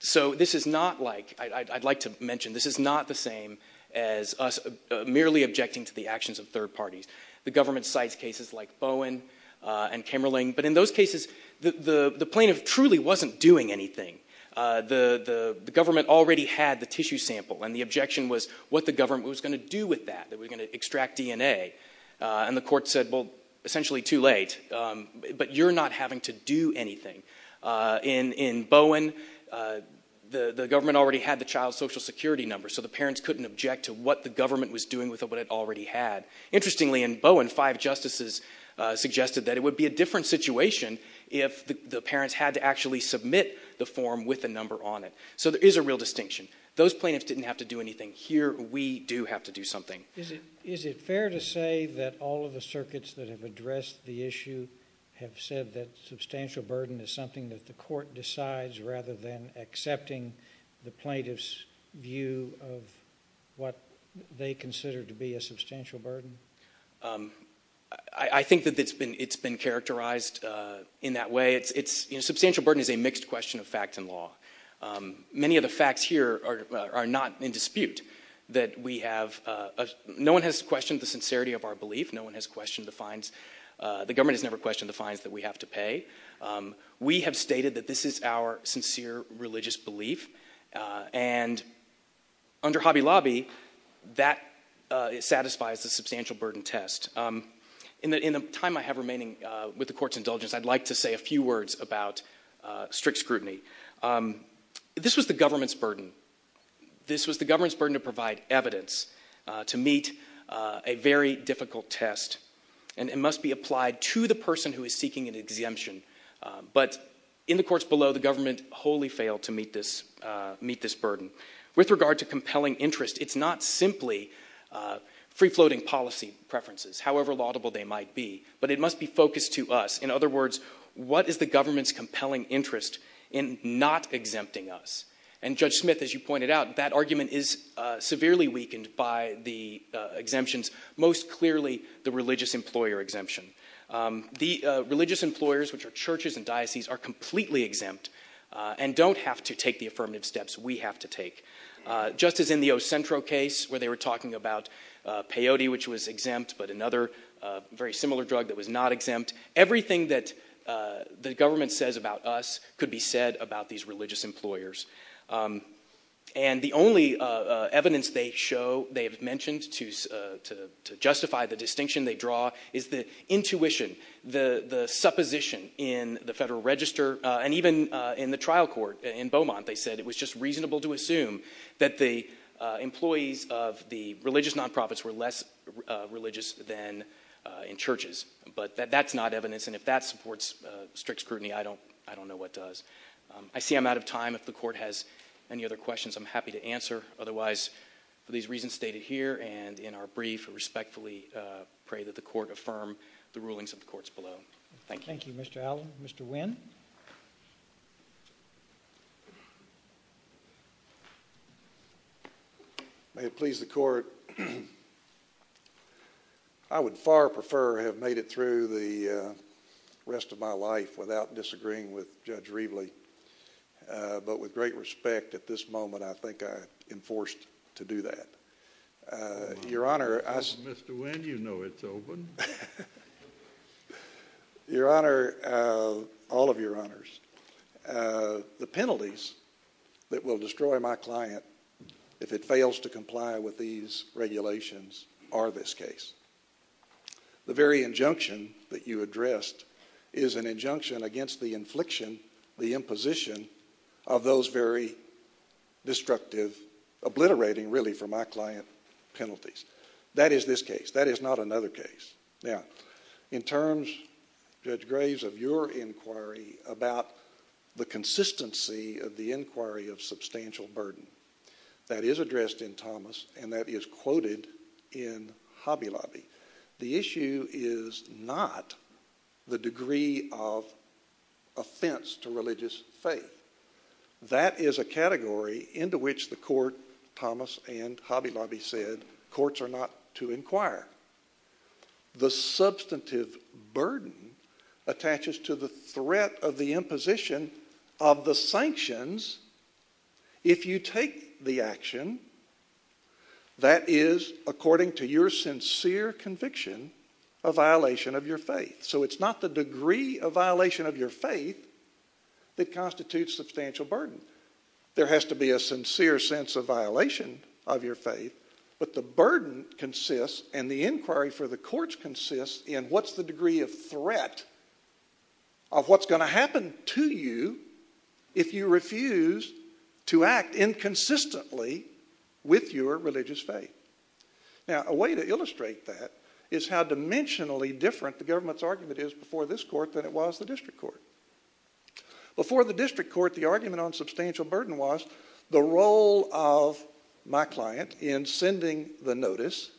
So this is not like, I'd like to mention, this is not the same as us merely objecting to the actions of third parties. The government cites cases like Bowen and Kimmerling. But in those cases, the plaintiff truly wasn't doing anything. The government already had the tissue sample. And the objection was what the government was going to do with that. They were going to extract DNA. And the court said, well, essentially too late. But you're not having to do anything. In Bowen, the government already had the child's social security number, so the parents couldn't object to what the government was doing with what it already had. Interestingly, in Bowen, five justices suggested that it would be a different situation if the parents had to actually submit the form with the number on it. So there is a real distinction. Those plaintiffs didn't have to do anything. Here, we do have to do something. Is it fair to say that all of the circuits that have addressed the issue have said that substantial burden is something that the court decides rather than accepting the plaintiff's view of what they consider to be a substantial burden? I think that it's been characterized in that way. Substantial burden is a mixed question of fact and law. Many of the facts here are not in dispute. No one has questioned the sincerity of our belief. No one has questioned the fines. The government has never questioned the fines that we have to pay. We have stated that this is our sincere religious belief. And under Hobby Lobby, that satisfies the substantial burden test. In the time I have about strict scrutiny, this was the government's burden. This was the government's burden to provide evidence to meet a very difficult test. It must be applied to the person who is seeking an exemption. But in the courts below, the government wholly failed to meet this burden. With regard to compelling interest, it's not simply free-floating policy preferences, however laudable they might be. But it must be focused to us. In other words, what is the government's compelling interest in not exempting us? And Judge Smith, as you pointed out, that argument is severely weakened by the exemptions, most clearly the religious employer exemption. The religious employers, which are churches and dioceses, are completely exempt and don't have to take the affirmative steps we have to take. Just as in the Ocentro case, where they were talking about peyote, which was exempt, but another very similar drug that was exempt. Everything that the government says about us could be said about these religious employers. And the only evidence they have mentioned to justify the distinction they draw is the intuition, the supposition in the Federal Register, and even in the trial court in Beaumont, they said it was just reasonable to assume that the employees of the religious nonprofits were less religious than in churches. But that's not evidence, and if that supports strict scrutiny, I don't know what does. I see I'm out of time. If the Court has any other questions, I'm happy to answer. Otherwise, for these reasons stated here and in our brief, I respectfully pray that the Court affirm the rulings of the courts below. Thank you. Thank you, Mr. Allen. Mr. Wynn? May it please the Court. I would far prefer to have made it through the rest of my life without disagreeing with Judge Reveley, but with great respect at this moment, I think I enforced to do that. Your Honor, Mr. Wynn, you know it's open. Your Honor, all of your honors, the penalties that will destroy my client if it fails to comply with these regulations are this case. The very injunction that you addressed is an injunction against the infliction, the imposition of those very destructive, obliterating, really, for my client penalties. That is this case. That is not another case. Now, in terms, Judge Graves, of your inquiry about the consistency of the inquiry of substantial burden that is addressed in Thomas and that is quoted in Hobby Lobby, the issue is not the degree of offense to religious faith. That is a category into which the Court, Thomas and Hobby Lobby, said courts are not to inquire. The substantive burden attaches to the threat of the imposition of the sanctions if you take the action that is, according to your sincere conviction, a violation of your faith. So it's not the degree of violation of your faith that constitutes substantial burden. There has to be a sincere sense of violation of your faith, but the burden consists and the inquiry for the courts consists in what's the degree of threat of what's going to happen to you if you refuse to act inconsistently with your religious faith. Now, a way to illustrate that is how dimensionally different the government's argument is before this court than it was the district court. Before the district court, the argument on substantial burden was the role of my client in sending the notice,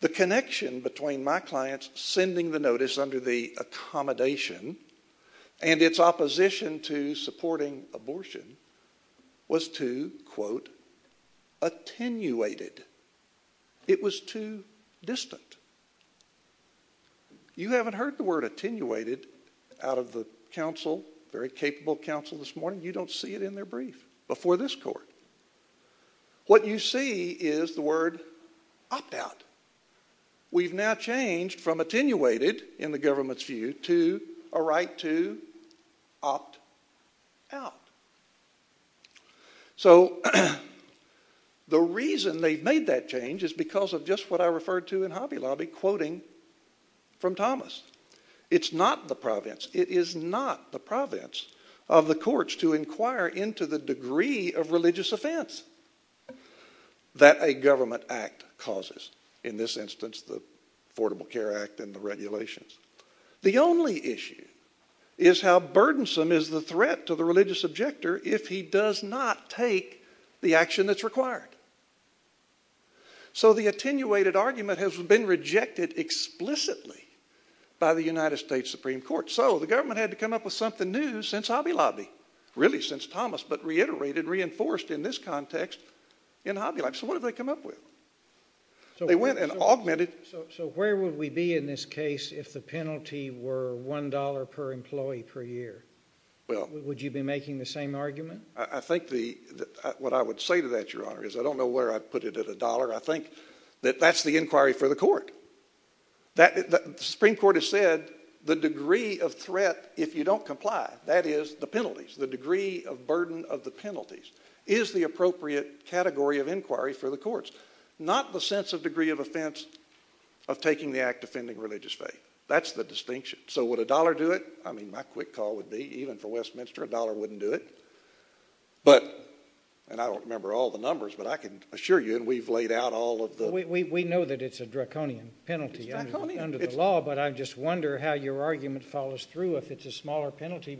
the connection between my client sending the notice under the accommodation and its opposition to supporting abortion was too, quote, attenuated. It was too distant. You haven't heard the word attenuated out of the council, very capable council this morning. You don't see it in their brief before this court. What you see is the word opt out. We've now changed from attenuated in the government's opt out. So the reason they've made that change is because of just what I referred to in Hobby Lobby quoting from Thomas. It's not the province. It is not the province of the courts to inquire into the degree of religious offense that a government act causes. In this instance, the Affordable Care Act and the regulations. The only issue is how burdensome is the threat to the religious objector if he does not take the action that's required. So the attenuated argument has been rejected explicitly by the United States Supreme Court. So the government had to come up with something new since Hobby Lobby, really since Thomas, but reiterated, reinforced in this context in Hobby Lobby. So what did they come up with? They went and augmented. So where would we be in this case if the penalty were $1 per employee per year? Well, would you be making the same argument? I think what I would say to that, Your Honor, is I don't know where I'd put it at a dollar. I think that that's the inquiry for the court. The Supreme Court has said the degree of threat if you don't comply, that is the penalties, the degree of burden of the penalties is the appropriate category of inquiry for the courts. Not the sense of degree of offense of taking the act offending religious faith. That's the distinction. So would a dollar do it? I mean, my quick call would be even for Westminster, a dollar wouldn't do it. But, and I don't remember all the numbers, but I can assure you we've laid out all of the... We know that it's a draconian penalty under the law, but I just wonder how your argument follows through if it's a smaller penalty.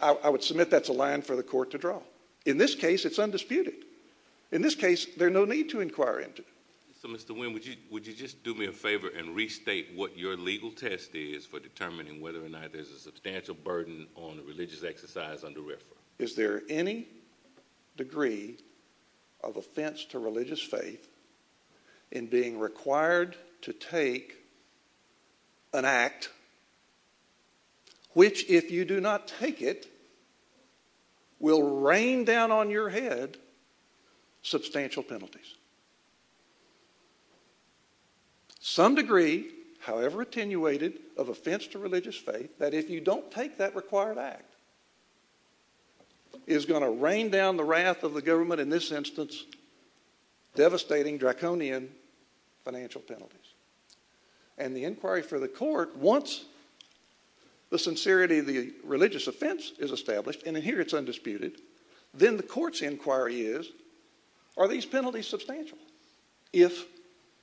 I would submit that's a line for the court to draw. In this case, it's undisputed. In this case, there's no need to inquire into it. Mr. Wynn, would you just do me a favor and restate what your legal test is for determining whether or not there's a substantial burden on the religious exercise under RFRA? Is there any degree of offense to religious faith in being required to take an act which, if you do not take it, will rain down on your head substantial penalties? Some degree, however attenuated, of offense to religious faith, that if you don't take that required act, is going to rain down the wrath of the government in this instance, devastating, draconian financial penalties. And the inquiry for the court, once the sincerity of the religious offense is established, and in here it's undisputed, then the court's inquiry is, are these penalties substantial if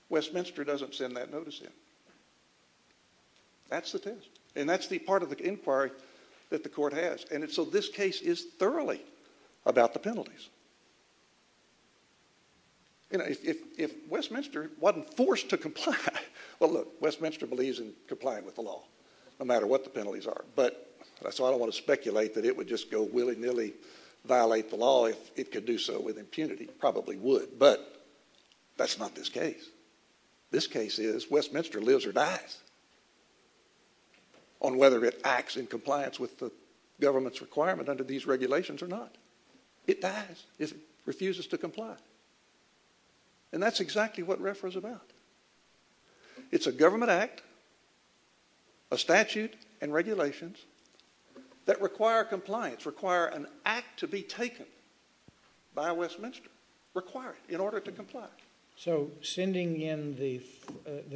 Westminster doesn't send that notice in? That's the test, and that's the part of the inquiry that the court has, and so this case is if Westminster wasn't forced to comply. Well, look, Westminster believes in complying with the law, no matter what the penalties are, but that's all I want to speculate, that it would just go willy-nilly, violate the law if it could do so with impunity. Probably would, but that's not this case. This case is Westminster lives or dies on whether it acts in compliance with the government's requirement under these regulations or not. It dies. It refuses to comply, and that's exactly what RFRA is about. It's a government act, a statute, and regulations that require compliance, require an act to be taken by Westminster, required in order to comply. So sending in the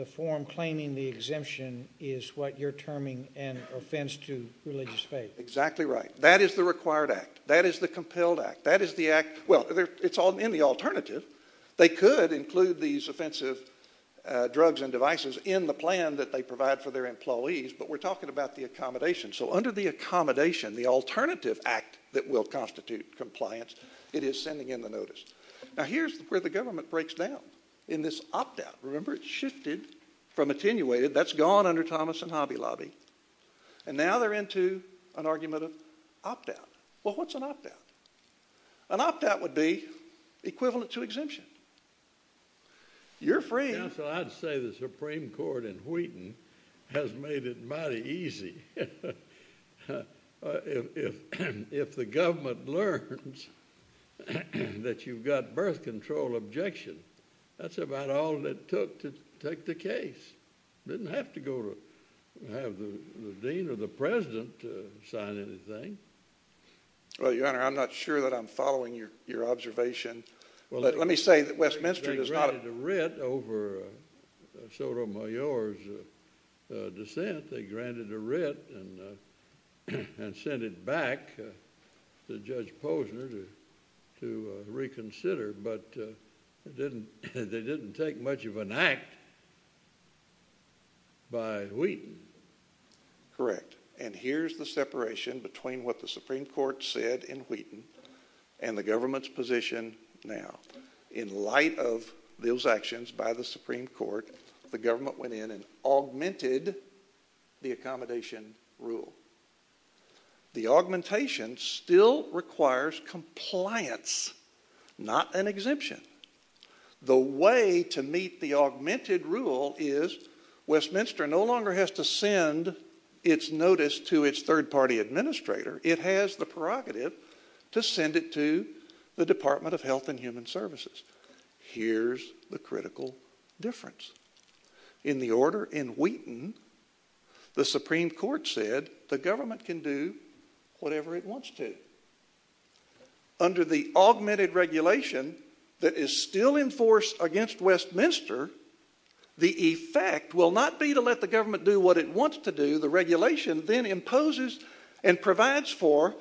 form claiming the exemption is what you're terming an offense to religious faith. Exactly right. That is the required act. That is the compelled act. That is the act, well, it's all in the alternative. They could include these offensive drugs and devices in the plan that they provide for their employees, but we're talking about the accommodation. So under the accommodation, the alternative act that will constitute compliance, it is sending in the notice. Now, here's where the government breaks down in this opt-out. Remember, it shifted from attenuated. That's gone under Thomas and Hobby Lobby, and now they're into an argument of opt-out. Well, what's an opt-out? An opt-out would be equivalent to exemption. You're free. I'd say the Supreme Court in Wheaton has made it mighty easy. If the government learns that you've got birth control objection, that's about all it took to the dean or the president to sign anything. Well, your honor, I'm not sure that I'm following your observation. Well, let me say that Westminster does not... They granted a writ over Sotomayor's dissent. They granted a writ and sent it back to Judge Posner to reconsider, but it didn't take much of an act by Wheaton. Correct, and here's the separation between what the Supreme Court said in Wheaton and the government's position now. In light of those actions by the Supreme Court, the government went in and augmented the accommodation rule. The augmentation still requires compliance, not an exemption. The way to meet the augmented rule is Westminster no longer has to send its notice to its third-party administrator. It has the prerogative to send it to the Department of Health and Human Services. Here's the critical difference. In the order in Wheaton, the Supreme Court said the government can do whatever it wants to. Under the augmented regulation that is still in force against Westminster, the effect will not be to let the government do what it wants to do. The regulation then imposes and provides for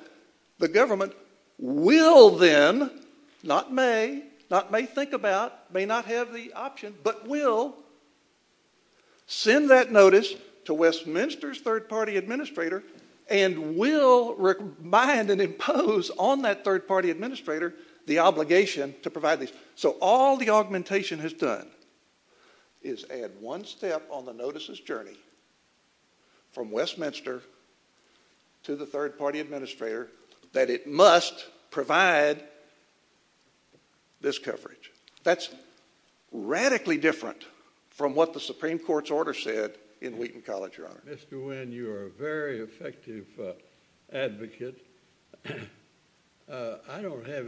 the government will then, not may, not may think about, may not have the option, but will send that notice to Westminster's third-party administrator and will remind and impose on that third-party administrator the obligation to provide this. So all the augmentation has done is add one step on the notice's journey from Westminster to the third-party administrator that it must provide this coverage. That's radically different from what the Supreme Court's order said in Wheaton College, Your Honor. Mr. Wynne, you are a very effective advocate. I don't have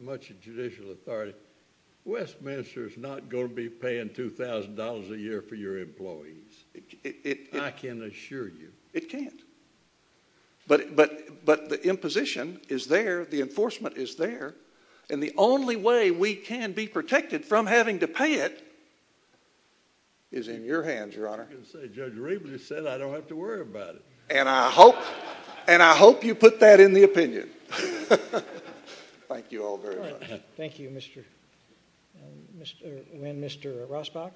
much judicial authority. Westminster is not going to be paying $2,000 a year for your employees, I can assure you. It can't. But the imposition is there, the enforcement is there, and the only way we can be protected from having to pay it is in your hands, Your Honor. Judge Wynne said I don't have to worry about it. And I hope you put that in the opinion. Thank you all very much. Thank you, Mr. Wynne. Mr. Rosbach?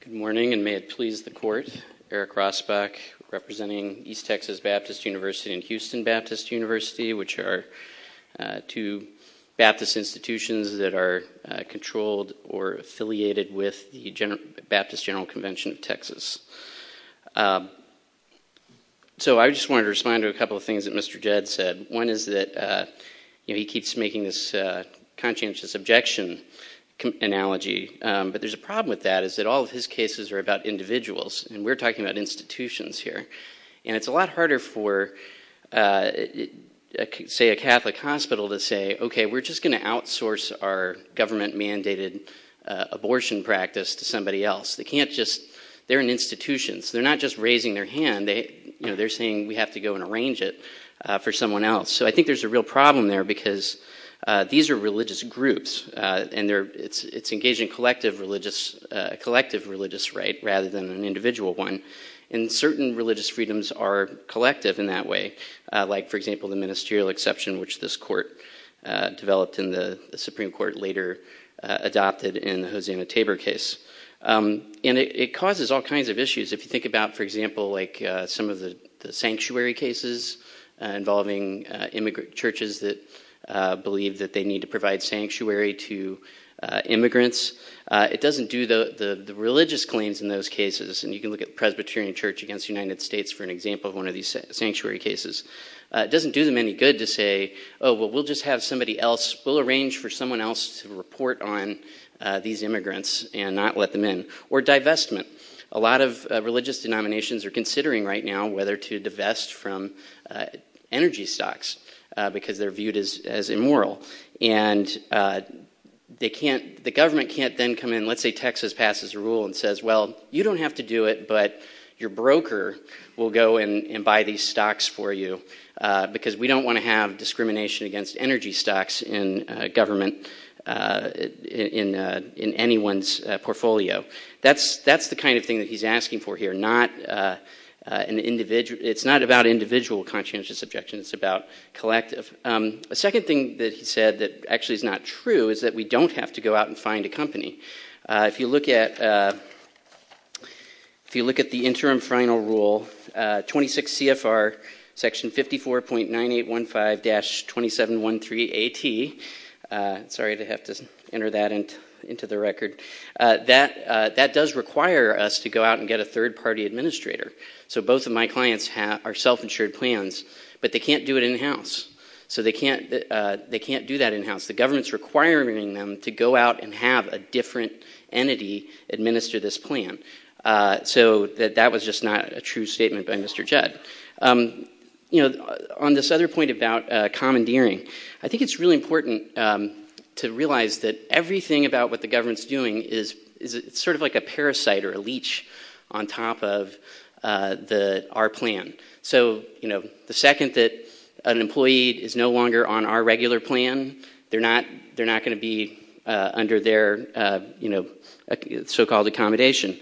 Good morning, and may it please the Court. Eric Rosbach, representing East Texas Baptist University and Houston Baptist University, which are two Baptist institutions that are controlled or affiliated with the Baptist General Convention of Texas. So I just wanted to respond to a couple of things that Mr. Judd said. One is that he keeps making this conscientious objection analogy, but there's a problem with that, is that all of his cases are about individuals, and we're talking about institutions here. And it's a lot harder for, say, a Catholic hospital to say, okay, we're just going to outsource our government-mandated abortion practice to somebody else. They can't just, they're an institution, they're not just raising their hand, they're saying we have to go and arrange it for someone else. So I think there's a real problem there, because these are religious groups, and it's engaging collective religious right rather than an individual one. And certain religious freedoms are collective in that way, like, for example, the ministerial exception, which this Court developed and the Supreme Court later adopted in the Hosanna Tabor case. And it causes all kinds of issues. If you think about, for example, like some of the sanctuary cases involving immigrant churches that believe that they need to provide sanctuary to immigrants, it doesn't do the religious claims in those cases. And you can look at Presbyterian Church against the United States for an example of one of these sanctuary cases. It doesn't do them any good to say, oh, well, we'll just have somebody else, we'll arrange for someone else to report on these immigrants and not let them in. Or divestment. A lot of religious denominations are considering right now whether to divest from energy stocks, because they're viewed as immoral. And they can't, the government can't then come in, let's say Texas passes a rule and says, well, you don't have to do it, but your broker will go and buy these stocks for you, because we don't want to have discrimination against energy stocks in government, in anyone's portfolio. That's the kind of thing that he's asking for here. It's not about individual conscientious objections, it's about collective. The second thing that he said that actually is not true is that we don't have to go out and find a company. If you look at the interim final rule, 26 CFR, section 54.9815-2713AT, sorry to have to enter that into the record, that does require us to go out and get a third-party administrator. So both of my clients have our self-insured plans, but they can't do it in-house. So they can't do that in-house. The government's requiring them to go out and have a different entity administering this plan. So that was just not a true statement by Mr. Jett. On this other point about commandeering, I think it's really important to realize that everything about what the government's doing is sort of like a parasite or a leech on top of our plan. So the second that an employee is no longer on our regular plan, they're not going to be under their so-called accommodation.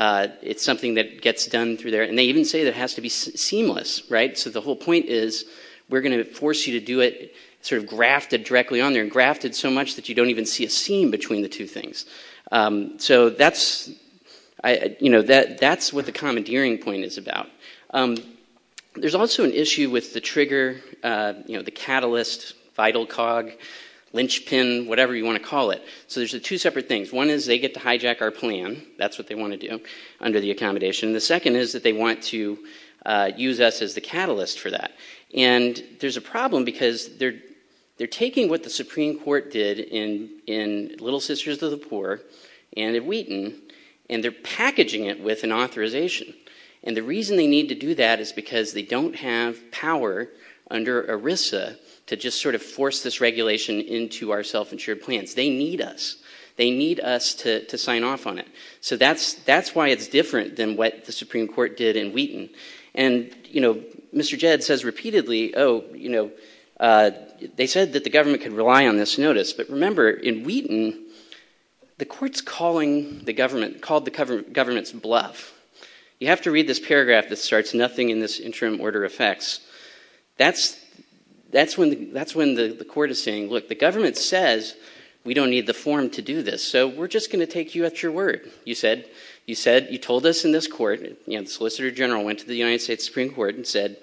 It's something that gets done through there. And they even say it has to be seamless. So the whole point is we're going to force you to do it sort of grafted directly on there, grafted so much that you don't even see a seam between the two things. So that's what the commandeering point is about. There's also an issue with the trigger, the catalyst, vital cog, linchpin, whatever you want to call it. So there's two separate things. One is they get to hijack our plan. That's what they want to do under the accommodation. The second is that they want to use us as the catalyst for that. And there's a problem because they're taking what the Supreme Court did in Little Sisters of the Poor and in Wheaton, and they're packaging it with an authorization. And the reason they need to do that is because they don't have power under ERISA to just sort of force this regulation into our self-insured plans. They need us. They need us to sign off on it. So that's why it's different than what the Supreme Court did in Wheaton. And Mr. Jed says repeatedly, oh, they said that the government could rely on this notice. But remember, in Wheaton, the court's calling the government, called the government's bluff. You have to read this paragraph that starts, nothing in this interim order affects. That's when the court is saying, look, the government says we don't need the form to do this. So we're just going to take you at your word. You said you told us in this court, the Solicitor General went to the United States Supreme Court and said,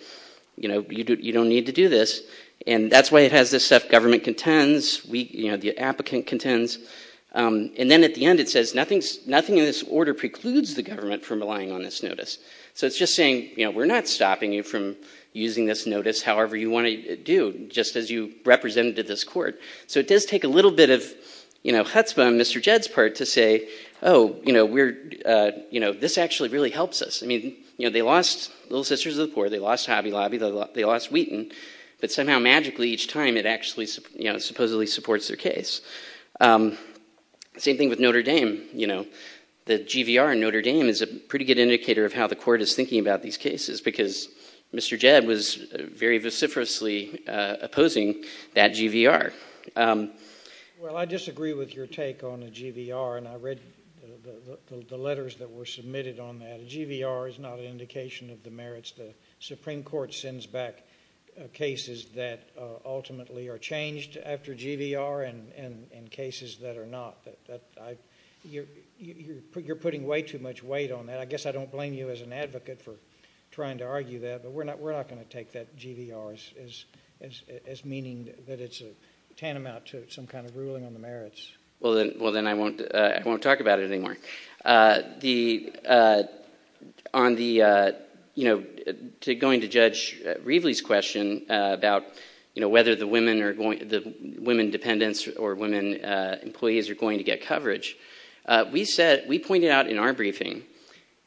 you don't need to do this. And that's why it has this stuff government contends, the applicant contends. And then at the end it says nothing in this order precludes the government from relying on this notice. So it's just saying, you know, we're not stopping you from using this notice however you want to do, just as you represented this court. So it does take a little bit of, you know, chutzpah on Mr. Jed's part to say, oh, you know, we're, you know, this actually really helps us. I mean, you know, they lost Little Sisters of the Poor, they lost Hobby Lobby, they lost Wheaton, but somehow magically each time it actually, you know, supposedly supports their thinking about these cases, because Mr. Jed was very vociferously opposing that GVR. Well, I disagree with your take on the GVR, and I read the letters that were submitted on that. GVR is not an indication of the merits. The Supreme Court sends back cases that ultimately are changed after GVR and cases that are not. You're putting way too much weight on that. I don't blame you as an advocate for trying to argue that, but we're not going to take that GVR as meaning that it's a tantamount to some kind of ruling on the merits. Well, then I won't talk about it anymore. On the, you know, going to Judge Riebley's question about, you know, whether the women dependents or women employees are going to get coverage, we said, we pointed out in our briefing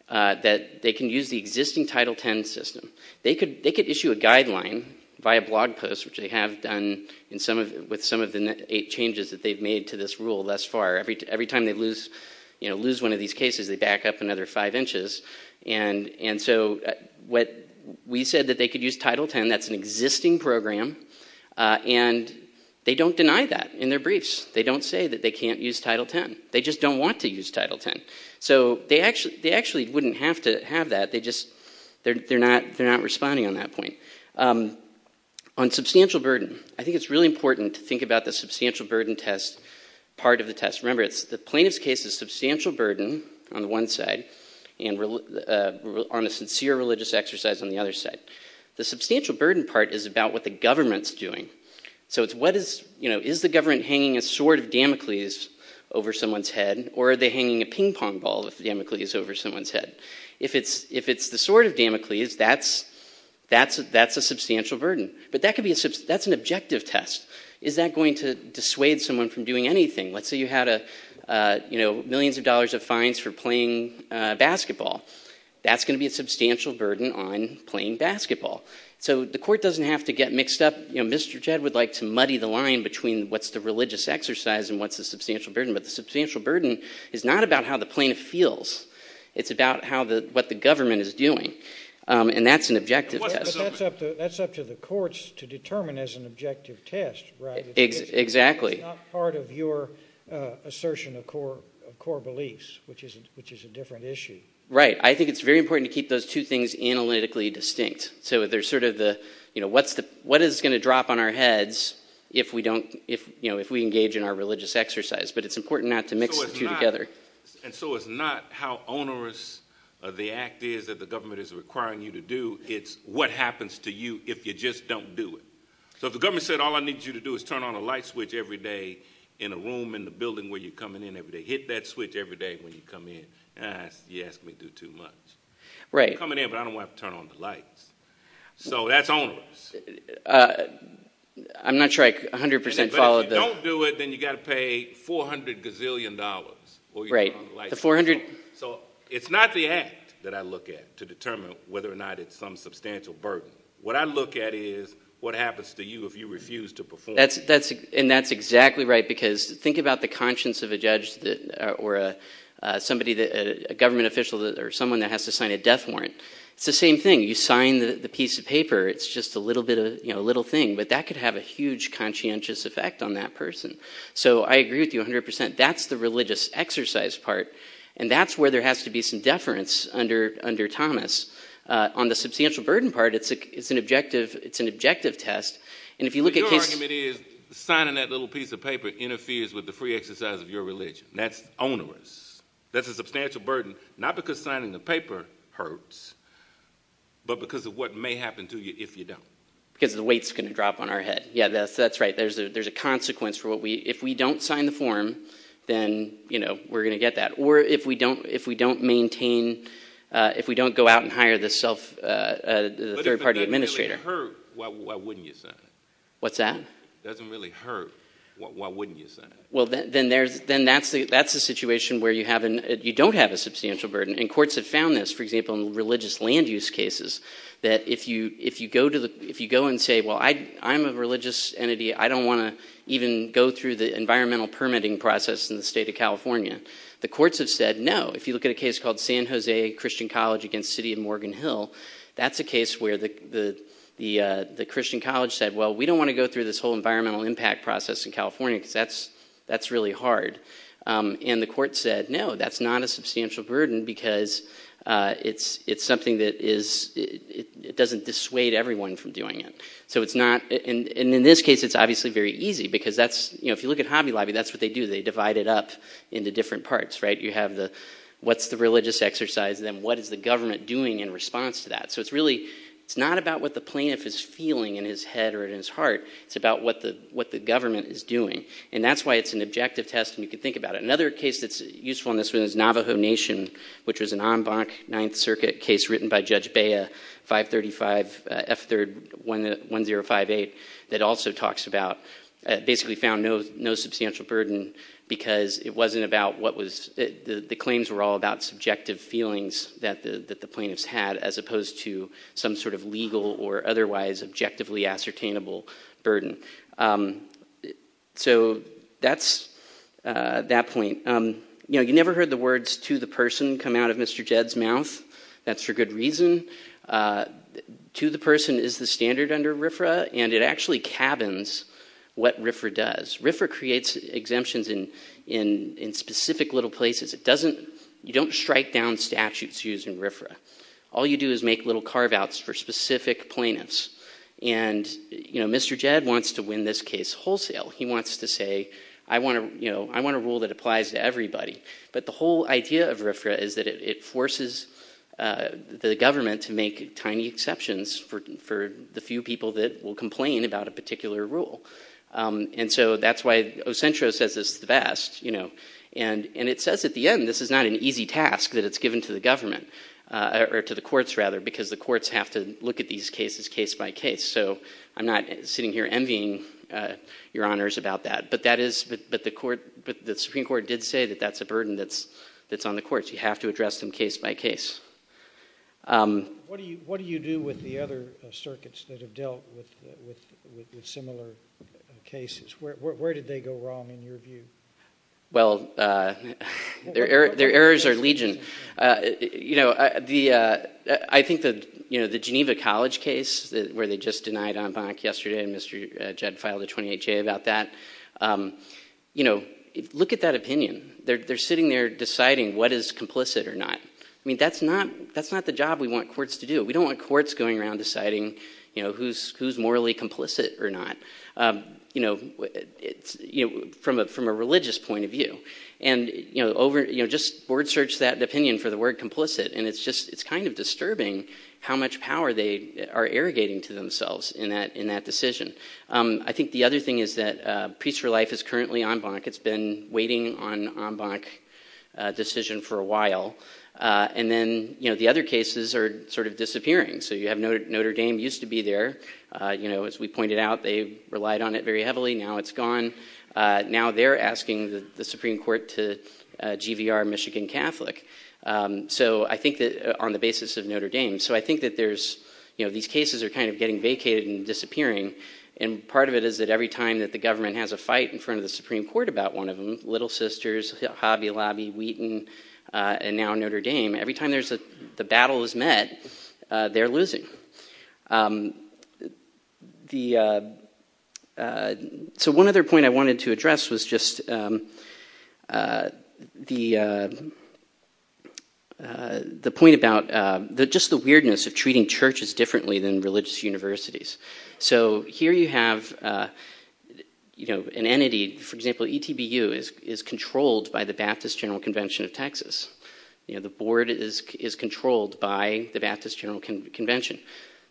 that they can use the existing Title X system. They could issue a guideline via blog post, which they have done with some of the eight changes that they've made to this rule thus far. Every time they lose, you know, lose one of these cases, they back up another five inches, and so what we said that they could use Title X, that's an existing program, and they don't deny that in their briefs. They don't say that they can't use Title X. They just don't want to use Title X, so they actually wouldn't have to have that. They just, they're not responding on that point. On substantial burden, I think it's really important to think about the substantial burden test, part of the test. Remember, the plaintiff's case is substantial burden on one side, and on a sincere religious exercise on the other side. The substantial burden part is about what the government's doing, so it's what is, you know, Damocles over someone's head, or are they hanging a ping pong ball with Damocles over someone's head? If it's the sort of Damocles, that's a substantial burden, but that could be a, that's an objective test. Is that going to dissuade someone from doing anything? Let's say you had a, you know, millions of dollars of fines for playing basketball. That's going to be a substantial burden on playing basketball, so the court doesn't have to get mixed up. You know, what's the religious exercise, and what's the substantial burden, but the substantial burden is not about how the plaintiff feels. It's about how the, what the government is doing, and that's an objective test. That's up to the courts to determine as an objective test, right? Exactly. It's not part of your assertion of core beliefs, which is a different issue. Right. I think it's very important to keep those two things analytically distinct, so there's sort of the, you know, what's the, what is going to drop on our heads if we don't, if, you know, if we engage in our religious exercise, but it's important not to mix the two together. And so it's not how onerous the act is that the government is requiring you to do. It's what happens to you if you just don't do it. So if the government said, all I need you to do is turn on a light switch every day in a room in the building where you're coming in every day, hit that switch every day when you come in. Yes, we do too much. Right. I'm coming in, I don't want to turn on the light. So that's onerous. I'm not sure I 100% followed. If you don't do it, then you got to pay $400 gazillion dollars. Right. So it's not the act that I look at to determine whether or not it's some substantial burden. What I look at is what happens to you if you refuse to perform. And that's exactly right, because think about the conscience of a judge or somebody, a government official or someone that has to sign a death warrant. It's the same thing. You sign the piece of paper. It's just a little thing, but that could have a huge conscientious effect on that person. So I agree with you 100%. That's the religious exercise part. And that's where there has to be some deference under Thomas. On the substantial burden part, it's an objective test. And if you look at... Your argument is signing that little piece of paper interferes with the free exercise of your religion. That's onerous. That's a substantial burden, not because signing the death warrants, but because of what may happen to you if you don't. Because the weight's going to drop on our head. Yeah, that's right. There's a consequence for what we... If we don't sign the form, then we're going to get that. Or if we don't maintain... If we don't go out and hire the third-party administrator... If it doesn't really hurt, why wouldn't you sign it? What's that? If it doesn't really hurt, why wouldn't you sign it? Well, then that's a situation where you don't have a substantial burden. And courts have found this, for example, in religious land use cases, that if you go and say, well, I'm a religious entity. I don't want to even go through the environmental permitting process in the state of California. The courts have said, no. If you look at a case called San Jose Christian College against the city of Morgan Hill, that's a case where the Christian College said, well, we don't want to go through this whole environmental impact process in California. That's really hard. And the court said, no, that's not a substantial burden because it's something that doesn't dissuade everyone from doing it. And in this case, it's obviously very easy because if you look at Hobby Lobby, that's what they do. They divide it up into different parts. You have what's the religious exercise, then what is the government doing in response to that? So it's not about what the plaintiff is feeling in his head or in his heart. It's about what the government is doing. And that's why it's an objective test, and you can think about it. Another case that's Navajo Nation, which is an en banc Ninth Circuit case written by Judge Baya, 535 F3rd 1058, that also talks about, basically found no substantial burden because it wasn't about what was, the claims were all about subjective feelings that the plaintiffs had as opposed to some sort of legal or otherwise objectively ascertainable burden. So that's that point. You know, you never heard the words to the person come out of Mr. Jed's mouth. That's for good reason. To the person is the standard under RFRA, and it actually cabins what RFRA does. RFRA creates exemptions in specific little places. It doesn't, you don't strike down statutes using RFRA. All you do is make little carve-outs for specific plaintiffs. And, you know, Mr. Jed wants to win this case wholesale. He wants to say, I want to, you know, I want a rule that applies to everybody. But the whole idea of RFRA is that it forces the government to make tiny exceptions for the few people that will complain about a particular rule. And so that's why Ocentro says this best, you know. And it says at the end, this is not an easy task that it's given to the government, or to the courts rather, because the courts have to look at these cases case by case. So I'm not sitting here envying your honors about that. But that is, but the court, the Supreme Court did say that that's a burden that's on the courts. You have to address them case by case. What do you, what do you do with the other circuits that have dealt with similar cases? Where did they go wrong in your view? Well, their errors are legion. You know, the, I think that, you know, the Geneva College case, where they just denied en banc yesterday, and Mr. Jed filed a 28-J about that. You know, look at that opinion. They're sitting there deciding what is complicit or not. I mean, that's not, that's not the job we want courts to do. We don't want courts going around deciding, you know, who's, who's morally complicit or not. You know, it's, you know, from a, from a religious point of view. And, you know, over, you know, just word search that opinion for the word complicit. And it's just, it's kind of disturbing how much power they are irrigating to themselves in that, in that decision. I think the other thing is that Peace for Life is currently en banc. It's been waiting on en banc decision for a while. And then, you know, the other cases are sort of disappearing. So you have Notre Dame used to be there. You know, as we pointed out, they relied on it very heavily. Now it's gone. Now they're asking the Supreme Court to GVR Michigan Catholic. So I think that on the basis of Notre Dame. So I think that there's, you know, these cases are kind of getting vacated and disappearing. And part of it is that every time that the government has a fight in front of the Supreme Court about one of them, Little Sisters, Hobby Lobby, Wheaton, and now Notre Dame, every time there's a, the battle is met, they're losing. The, so one other point I wanted to address was just the, the point about the, just the weirdness of treating churches differently than religious universities. So here you have, you know, an entity, for example, ETBU is, is controlled by the Baptist General Convention of Texas. You know, the board is, is controlled by the Baptist General Convention.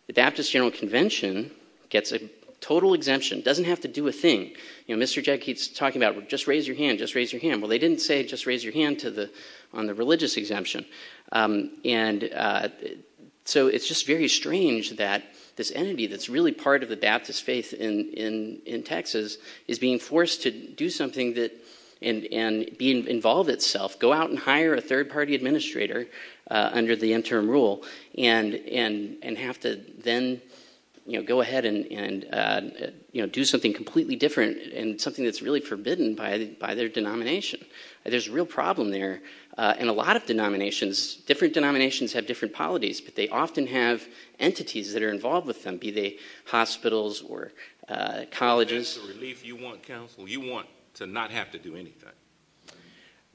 The Baptist General Convention gets a total exemption, doesn't have to do a thing. You know, Mr. J keeps talking about, well, just raise your hand, just raise your hand. Well, they didn't say, just raise your hand to the, on the religious exemption. And so it's just very strange that this entity that's really part of the Baptist faith in, in, in Texas is being forced to do something that, and, and be involved itself, go out and hire a third party administrator under the interim rule and, and, and have to then, you know, go ahead and, and, you know, do something completely different and something that's really forbidden by, by their denomination. There's a real problem there. And a lot of denominations, different denominations have different polities, but they often have entities that are involved with them, be they hospitals or colleges. You want to not have to do anything.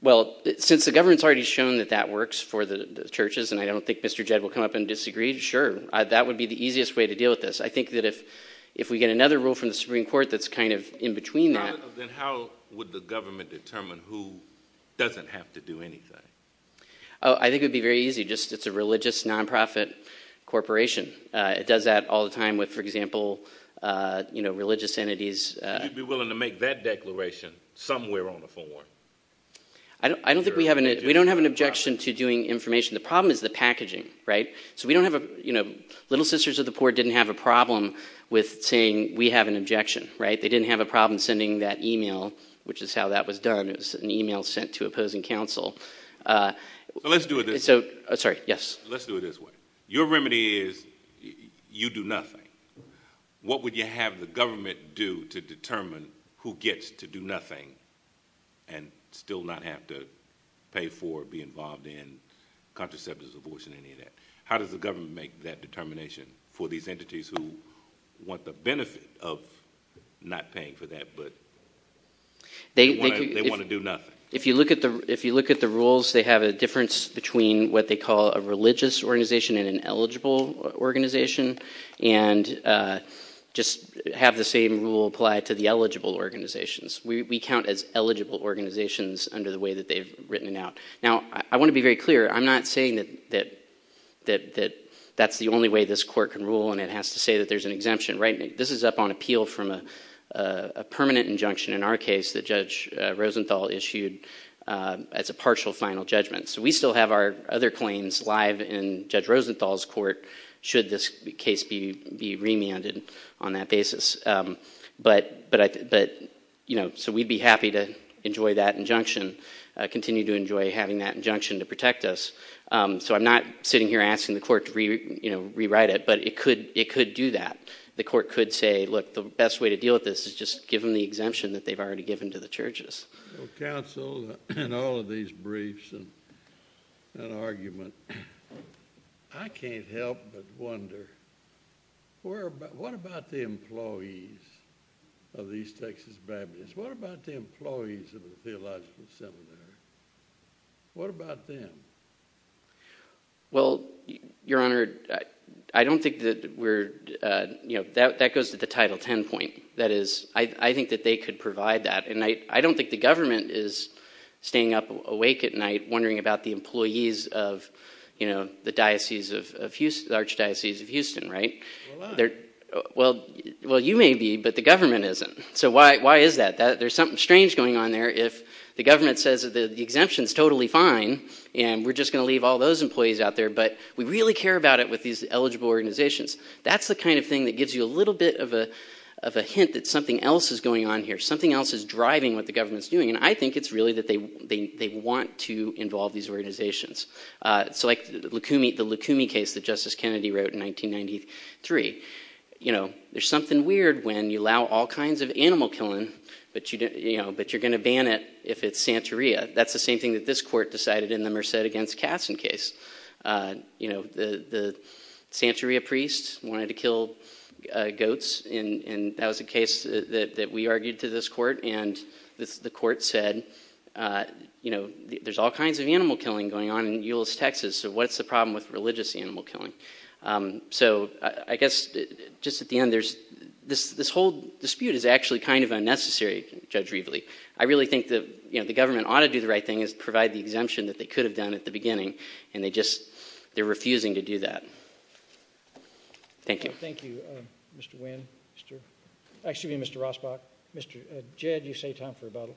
Well, since the government's already shown that that works for the churches, and I don't think Mr. J will come up and disagree. Sure. That would be the easiest way to deal with this. I think that if, if we get another rule from the Supreme Court, that's kind of in between that, then how would the government determine who doesn't have to do anything? Oh, I think it'd be very easy. Just, it's a religious nonprofit corporation. It does that all the time with, for example, you know, religious entities. Would you be willing to make that declaration somewhere on the form? I don't, I don't think we have an, we don't have an objection to doing information. The problem is the packaging, right? So we don't have a, you know, Little Sisters of the Poor didn't have a problem with saying we have an objection, right? They didn't have a problem sending that email, which is how that was done. It was an email sent to opposing counsel. So let's do it this way. Your remedy is you do nothing. What would you have the government do to determine who gets to do nothing and still not have to pay for or be involved in contraceptives, abortion, any of that? How does the government make that determination for these entities who want the benefit of not paying for that, but they want to do nothing? If you look at the, if you look at the rules, they have a difference between what they call a religious organization and an eligible organization and just have the same rule apply to the eligible organizations. We count as eligible organizations under the way that they've written it out. Now, I want to be very clear. I'm not saying that, that, that, that's the only way this court can rule and it has to say that there's an exemption, right? This is up on as a partial final judgment. So we still have our other claims live in Judge Rosenthal's court, should this case be remanded on that basis. But, but, but, you know, so we'd be happy to enjoy that injunction, continue to enjoy having that injunction to protect us. So I'm not sitting here asking the court to re, you know, rewrite it, but it could, it could do that. The court could say, look, the best way to deal with this is just give the exemption that they've already given to the churches. So counsel, in all of these briefs and argument, I can't help but wonder, where, what about the employees of these Texas Baptist? What about the employees of the Theological Seminary? What about them? Well, Your Honor, I don't think that we're, you know, that, that goes to the Title 10 point. That is, I, I think that they could provide that. And I, I don't think the government is staying up awake at night wondering about the employees of, you know, the diocese of Houston, the Archdiocese of Houston, right? Well, well, you may be, but the government isn't. So why, why is that? There's something strange going on there if the government says that the exemption's totally fine, and we're just going to leave all those employees out there, but we really care about it with these eligible organizations. That's the kind of thing that something else is going on here. Something else is driving what the government's doing, and I think it's really that they, they, they want to involve these organizations. So like the Lukumi, the Lukumi case that Justice Kennedy wrote in 1993, you know, there's something weird when you allow all kinds of animal killing, but you didn't, you know, but you're going to ban it if it's Santeria. That's the same thing that this court decided in the Merced against Katzen case. You know, the, the Santeria priests wanted to kill goats, and that was a case that we argued to this court, and the court said, you know, there's all kinds of animal killing going on in Euless, Texas, so what's the problem with religious animal killing? So I guess just at the end, there's, this, this whole dispute is actually kind of unnecessary, Judge Rieble. I really think that, you know, the government ought to do the right thing is provide the exemption that they could have done at the beginning, and they just, they're refusing to do that. Thank you. Thank you, Mr. Wynn, Mr., excuse me, Mr. Rosbach, Mr. Jed, you saved time for the bottle.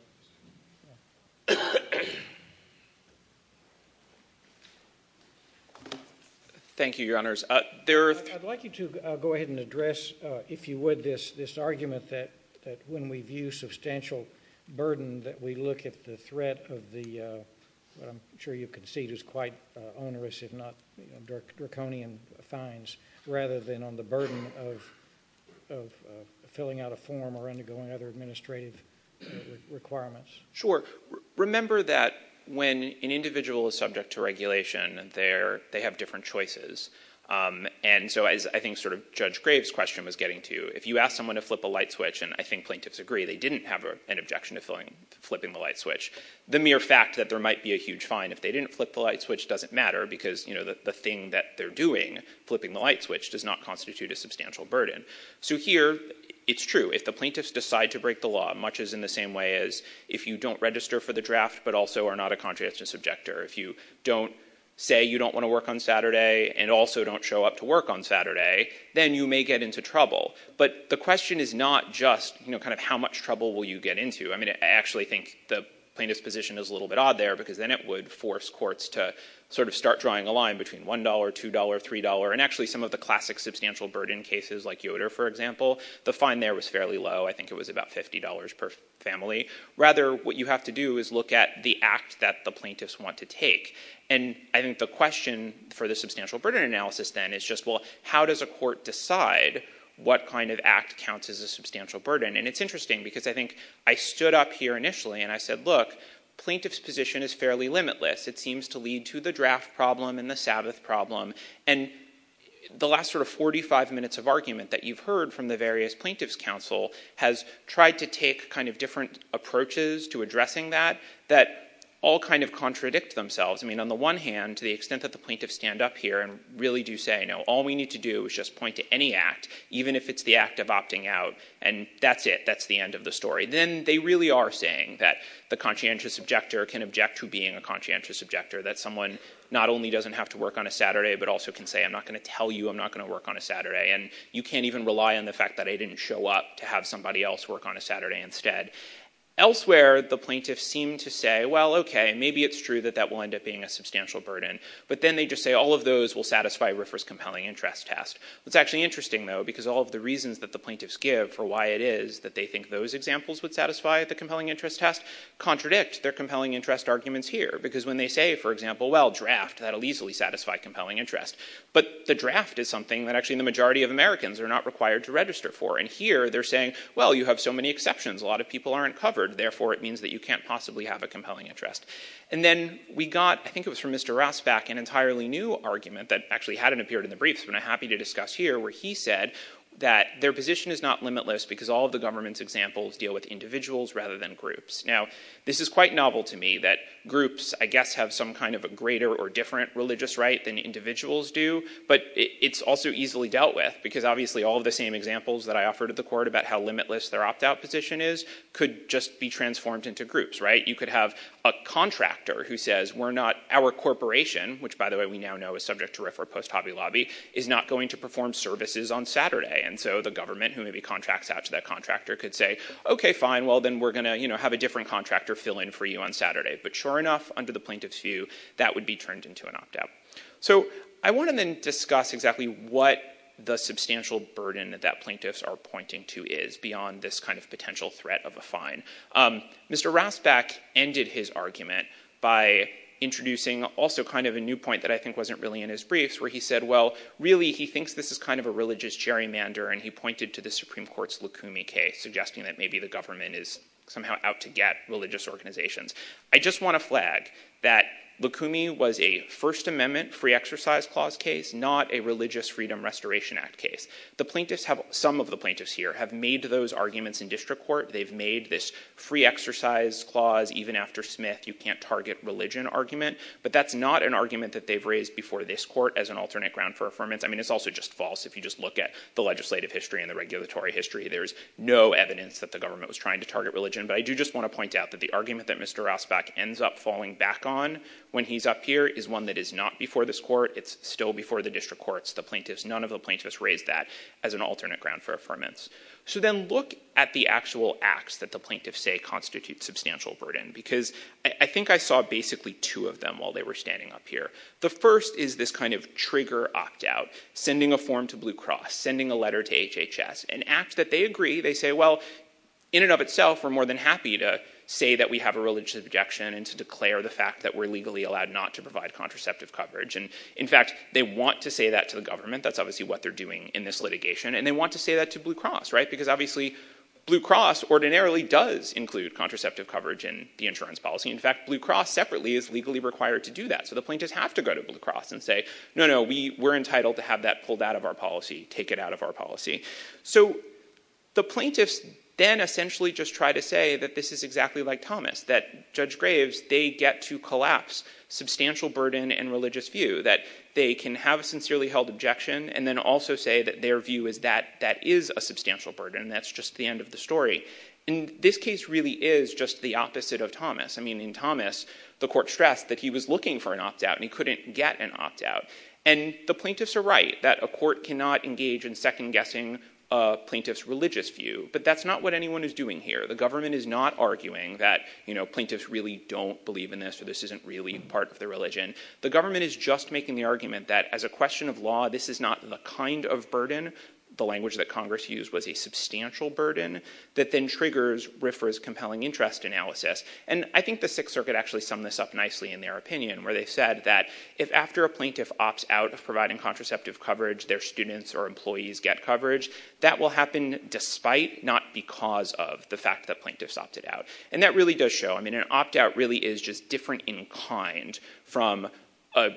Thank you, Your Honors. There are. I'd like you to go ahead and address, if you would, this, this argument that, that when we view substantial burden, that we look at the threat of the, what I'm sure you can see is quite onerous, if not draconian fines, rather than on the burden of, of filling out a form or undergoing other administrative requirements. Sure. Remember that when an individual is subject to regulation, they're, they have different choices, and so as I think sort of Judge Graves' question was getting to, if you ask someone to flip a light switch, and I think plaintiffs agree, they didn't have an objection to flipping, the mere fact that there might be a huge fine if they didn't flip the light switch doesn't matter, because, you know, the thing that they're doing, flipping the light switch does not constitute a substantial burden. So here, it's true. If the plaintiffs decide to break the law, much as in the same way as if you don't register for the draft, but also are not a contradictory subjector, if you don't say you don't want to work on Saturday and also don't show up to work on Saturday, then you may get into trouble. But the question is not just, you know, kind of how much trouble will you get into? I mean, I actually think the plaintiff's position is a little bit odd there, because then it would force courts to sort of start drawing a line between $1, $2, $3, and actually some of the classic substantial burden cases like Yoder, for example, the fine there was fairly low. I think it was about $50 per family. Rather, what you have to do is look at the act that the plaintiffs want to take, and I think the question for the substantial burden analysis then is just, well, how does a court decide what kind of act counts as a substantial burden? And it's interesting, because I think I stood up here initially and I said, look, plaintiff's position is fairly limitless. It seems to lead to the draft problem and the Sabbath problem. And the last sort of 45 minutes of argument that you've heard from the various plaintiffs' counsel has tried to take kind of different approaches to addressing that that all kind of contradict themselves. I mean, on the one hand, to the extent that the plaintiffs stand up here and really do say, you know, all we need to do is just point to any act, even if it's the act of opting out, and that's it. That's the end of the story. Then they really are saying that the conscientious objector can object to being a conscientious objector, that someone not only doesn't have to work on a Saturday, but also can say, I'm not going to tell you I'm not going to work on a Saturday, and you can't even rely on the fact that I didn't show up to have somebody else work on a Saturday instead. Elsewhere, the plaintiffs seem to say, well, okay, maybe it's true that that will end up being a substantial burden, but then they just say all of those will satisfy RFRA's compelling interest test. It's actually interesting, though, because all of the reasons that the plaintiffs give for why it is that they think those examples would satisfy the compelling interest test contradict their compelling interest arguments here, because when they say, for example, well, draft, that'll easily satisfy compelling interest, but the draft is something that actually the majority of Americans are not required to register for, and here they're saying, well, you have so many exceptions, a lot of people aren't covered, therefore it means that you can't possibly have a compelling interest. And then we got, I think it was from Mr. Rasback, an entirely new argument that actually hadn't appeared in the briefs, but I'm happy to discuss here, where he said that their position is not limitless because all of the government's examples deal with individuals rather than groups. Now, this is quite novel to me that groups, I guess, have some kind of a greater or different religious right than individuals do, but it's also easily dealt with, because obviously all of the same examples that I offered at the court about how limitless their opt-out position is could just be transformed into groups, right? You could have a contractor who post-hobby lobby is not going to perform services on Saturday, and so the government who maybe contracts out to that contractor could say, okay, fine, well, then we're going to have a different contractor fill in for you on Saturday, but sure enough, under the plaintiff's view, that would be turned into an opt-out. So I want to then discuss exactly what the substantial burden that plaintiffs are pointing to is beyond this kind of potential threat of a fine. Mr. Rasback ended his argument by introducing also kind of a new point that I think wasn't really in his briefs where he said, well, really, he thinks this is kind of a religious gerrymander, and he pointed to the Supreme Court's Lukumi case, suggesting that maybe the government is somehow out to get religious organizations. I just want to flag that Lukumi was a First Amendment free exercise clause case, not a Religious Freedom Restoration Act case. Some of the plaintiffs here have made those target religion argument, but that's not an argument that they've raised before this court as an alternate ground for affirmance. I mean, it's also just false. If you just look at the legislative history and the regulatory history, there's no evidence that the government was trying to target religion, but I do just want to point out that the argument that Mr. Rasback ends up falling back on when he's up here is one that is not before this court. It's still before the district courts. None of the plaintiffs raised that as an alternate ground for affirmance. So then look at the actual acts that the plaintiffs say constitute substantial burden, because I think I saw basically two of them while they were standing up here. The first is this kind of trigger opt-out, sending a form to Blue Cross, sending a letter to HHS, an act that they agree, they say, well, in and of itself, we're more than happy to say that we have a religious objection and to declare the fact that we're legally allowed not to provide contraceptive coverage. And in fact, they want to say that to the government. That's obviously what they're doing in this litigation. And they want to say that to Blue Cross, right? Because obviously, Blue Cross ordinarily does include contraceptive coverage in the insurance policy. In fact, Blue Cross separately is legally required to do that. So the plaintiffs have to go to Blue Cross and say, no, no, we were entitled to have that pulled out of our policy, take it out of our policy. So the plaintiffs then essentially just try to say that this is exactly like Thomas, that Judge Graves, they get to collapse substantial burden and religious view that they can have a sincerely held objection and then also say that their view is that that is a substantial burden. That's just the end of the story. And this case really is just the opposite of Thomas. I mean, in Thomas, the court stressed that he was looking for an opt out and he couldn't get an opt out. And the plaintiffs are right that a court cannot engage in second guessing a plaintiff's religious view, but that's not what anyone is doing here. The government is not arguing that plaintiffs really don't believe in this. So this isn't really part of the religion. The government is just making the argument that as a question of law, this is not the kind of burden, the language that Congress used was a substantial burden that then triggers RIFRA's compelling interest analysis. And I think the Sixth Circuit actually summed this up nicely in their opinion, where they said that if after a plaintiff opts out of providing contraceptive coverage, their students or employees get coverage, that will happen despite, not because of, the fact that plaintiffs opted out. And that really does show, I mean, an opt out really is just different in kind from,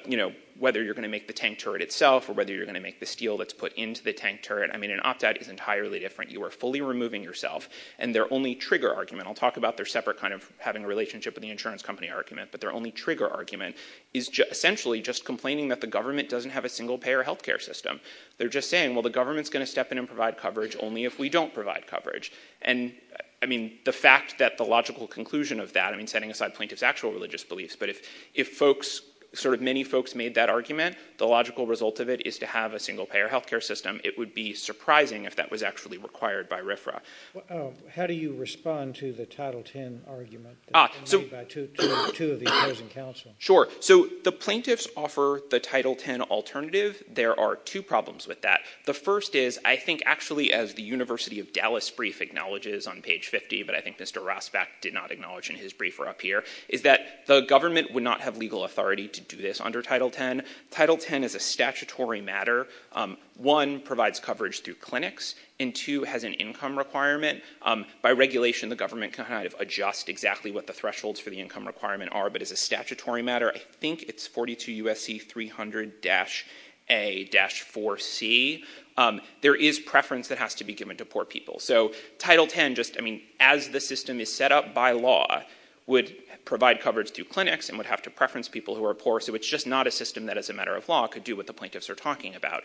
you know, whether you're going to make the tank turret itself or whether you're going to make the steel that's put into the tank turret. I mean, an opt out is entirely different. You are fully removing yourself. And their only trigger argument, I'll talk about their separate kind of having a relationship with the insurance company argument, but their only trigger argument is essentially just complaining that the government doesn't have a single payer healthcare system. They're just saying, well, the government's going to step in and provide coverage only if we don't provide coverage. And I mean, the fact that the logical conclusion of that, I mean, setting aside plaintiffs' actual religious beliefs, but if folks, sort of many folks made that argument, the logical result of it is to have a single payer healthcare system. It would be surprising if that was actually required by RFRA. How do you respond to the Title X argument? Sure. So the plaintiffs offer the Title X alternative. There are two problems with that. The first is, I think actually, as the University of Dallas brief acknowledges on page 50, but I think Mr. Rosbach did not acknowledge in his briefer up here, is that the government would have legal authority to do this under Title X. Title X is a statutory matter. One, provides coverage through clinics, and two, has an income requirement. By regulation, the government can kind of adjust exactly what the thresholds for the income requirement are, but as a statutory matter, I think it's 42 U.S.C. 300-A-4C. There is preference that has to be given to poor people. So Title X, just, I mean, as the system is set up by law, would provide coverage through clinics and would have to preference people who are poor, so it's just not a system that as a matter of law could do what the plaintiffs are talking about.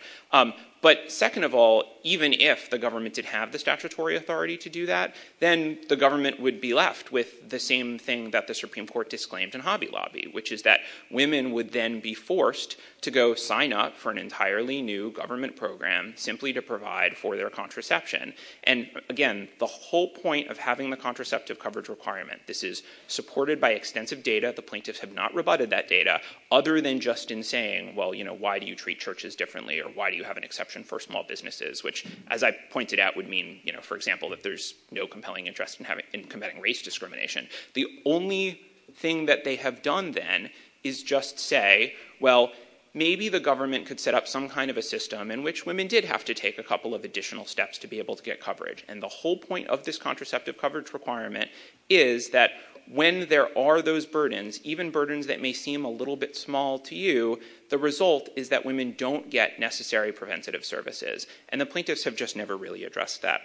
But second of all, even if the government did have the statutory authority to do that, then the government would be left with the same thing that the Supreme Court disclaimed in Hobby Lobby, which is that women would then be forced to go sign up for an entirely new government program simply to provide for their contraception. And again, the whole point of having the contraceptive coverage requirement, this is supported by extensive data, the plaintiffs have not rebutted that data, other than just in saying, well, you know, why do you treat churches differently or why do you have an exception for small businesses, which, as I pointed out, would mean, you know, for example, that there's no compelling interest in combating race discrimination. The only thing that they have done then is just say, well, maybe the government could set up some kind of a system in which women did have to take a couple of additional steps to be able to get coverage. And the whole point of this contraceptive coverage requirement is that when there are those burdens, even burdens that may seem a little bit small to you, the result is that women don't get necessary preventative services. And the plaintiffs have just never really addressed that.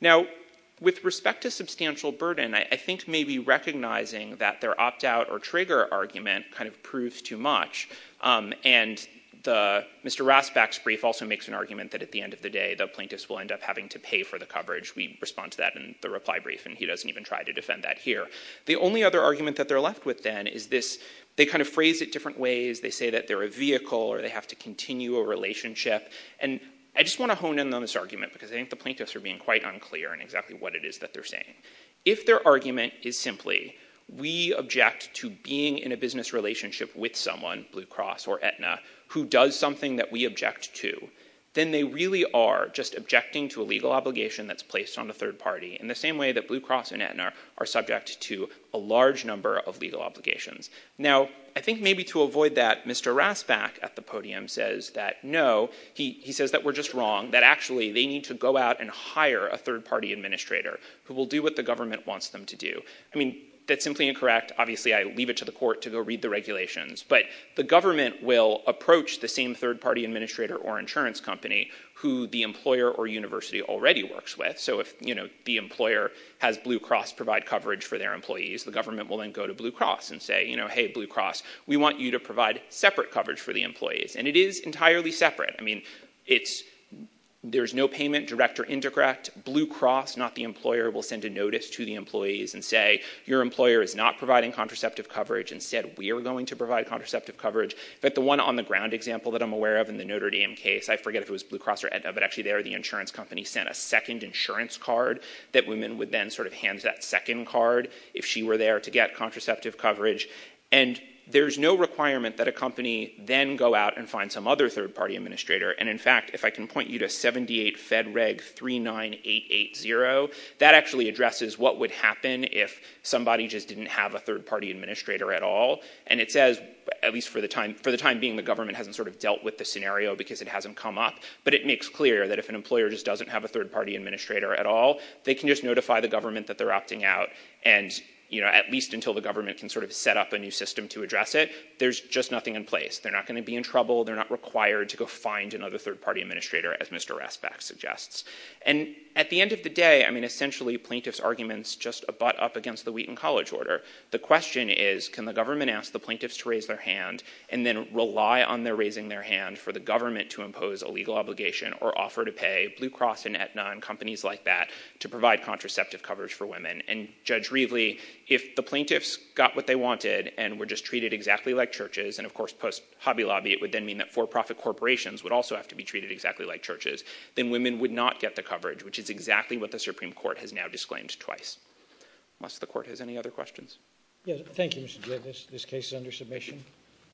Now, with respect to substantial burden, I think maybe recognizing that their opt-out or trigger argument kind of proves too much. And Mr. Rasback's brief also makes an argument that at the end of the day, the plaintiffs will end up having to pay for the coverage. We respond to that in the reply brief and he doesn't even try to defend that here. The only other argument that they're left with then is this, they kind of phrase it different ways. They say that they're a vehicle or they have to continue a relationship. And I just want to hone in on this argument because I think the plaintiffs are being quite unclear in exactly what it is that they're saying. If their argument is simply, we object to being in a business relationship with someone, Blue Cross or Aetna, who does something that we object to, then they really are just objecting to a legal obligation that's placed on the third party in the same way that Blue Cross and Aetna are subject to a large number of legal obligations. Now, I think maybe to avoid that, Mr. Rasback at the podium says that no, he says that we're just wrong, that actually they need to go out and hire a third party administrator who will do what the government wants them to do. I mean, that's simply incorrect. Obviously, I leave it to the court to go read the regulations, but the government will approach the same third party administrator or insurance company who the employer or university already works with. So if the employer has Blue Cross provide coverage for their employees, the government will then go to Blue Cross and say, hey, Blue Cross, we want you to provide separate coverage for the employees. And it is entirely separate. I mean, there's no payment, direct or indirect. Blue Cross, not the employer, will send a notice to the employees and say, your employer is not providing contraceptive coverage. Instead, we are going to provide contraceptive coverage. But the one on the ground example that I'm aware of in the Notre Dame case, I forget if it was Blue Cross or Edna, but actually there, the insurance company sent a second insurance card that women would then sort of hand that second card if she were there to get contraceptive coverage. And there's no requirement that a company then go out and find some other third party administrator. And in fact, if I can point you to 78 Fed Reg 39880, that actually addresses what would happen if somebody just didn't have a third party administrator at all. And it says, at least for the time being, the government hasn't dealt with the scenario because it hasn't come up. But it makes clear that if an employer just doesn't have a third party administrator at all, they can just notify the government that they're opting out. And at least until the government can sort of set up a new system to address it, there's just nothing in place. They're not going to be in trouble. They're not required to go find another third party administrator, as Mr. Rasbach suggests. And at the end of the day, I mean, essentially plaintiff's arguments just butt up against the Wheaton College order. The question is, can the government ask the plaintiffs to raise their hand and then rely on their raising their hand for the government to impose a legal obligation or offer to pay Blue Cross and Aetna and companies like that to provide contraceptive coverage for women? And Judge Reveley, if the plaintiffs got what they wanted and were just treated exactly like churches, and of course, post Hobby Lobby, it would then mean that for profit corporations would also have to be treated exactly like churches, then women would not get the coverage, which is exactly what the Supreme Court has claimed twice. Does the court have any other questions? Thank you, Mr. Judge. This case is under submission.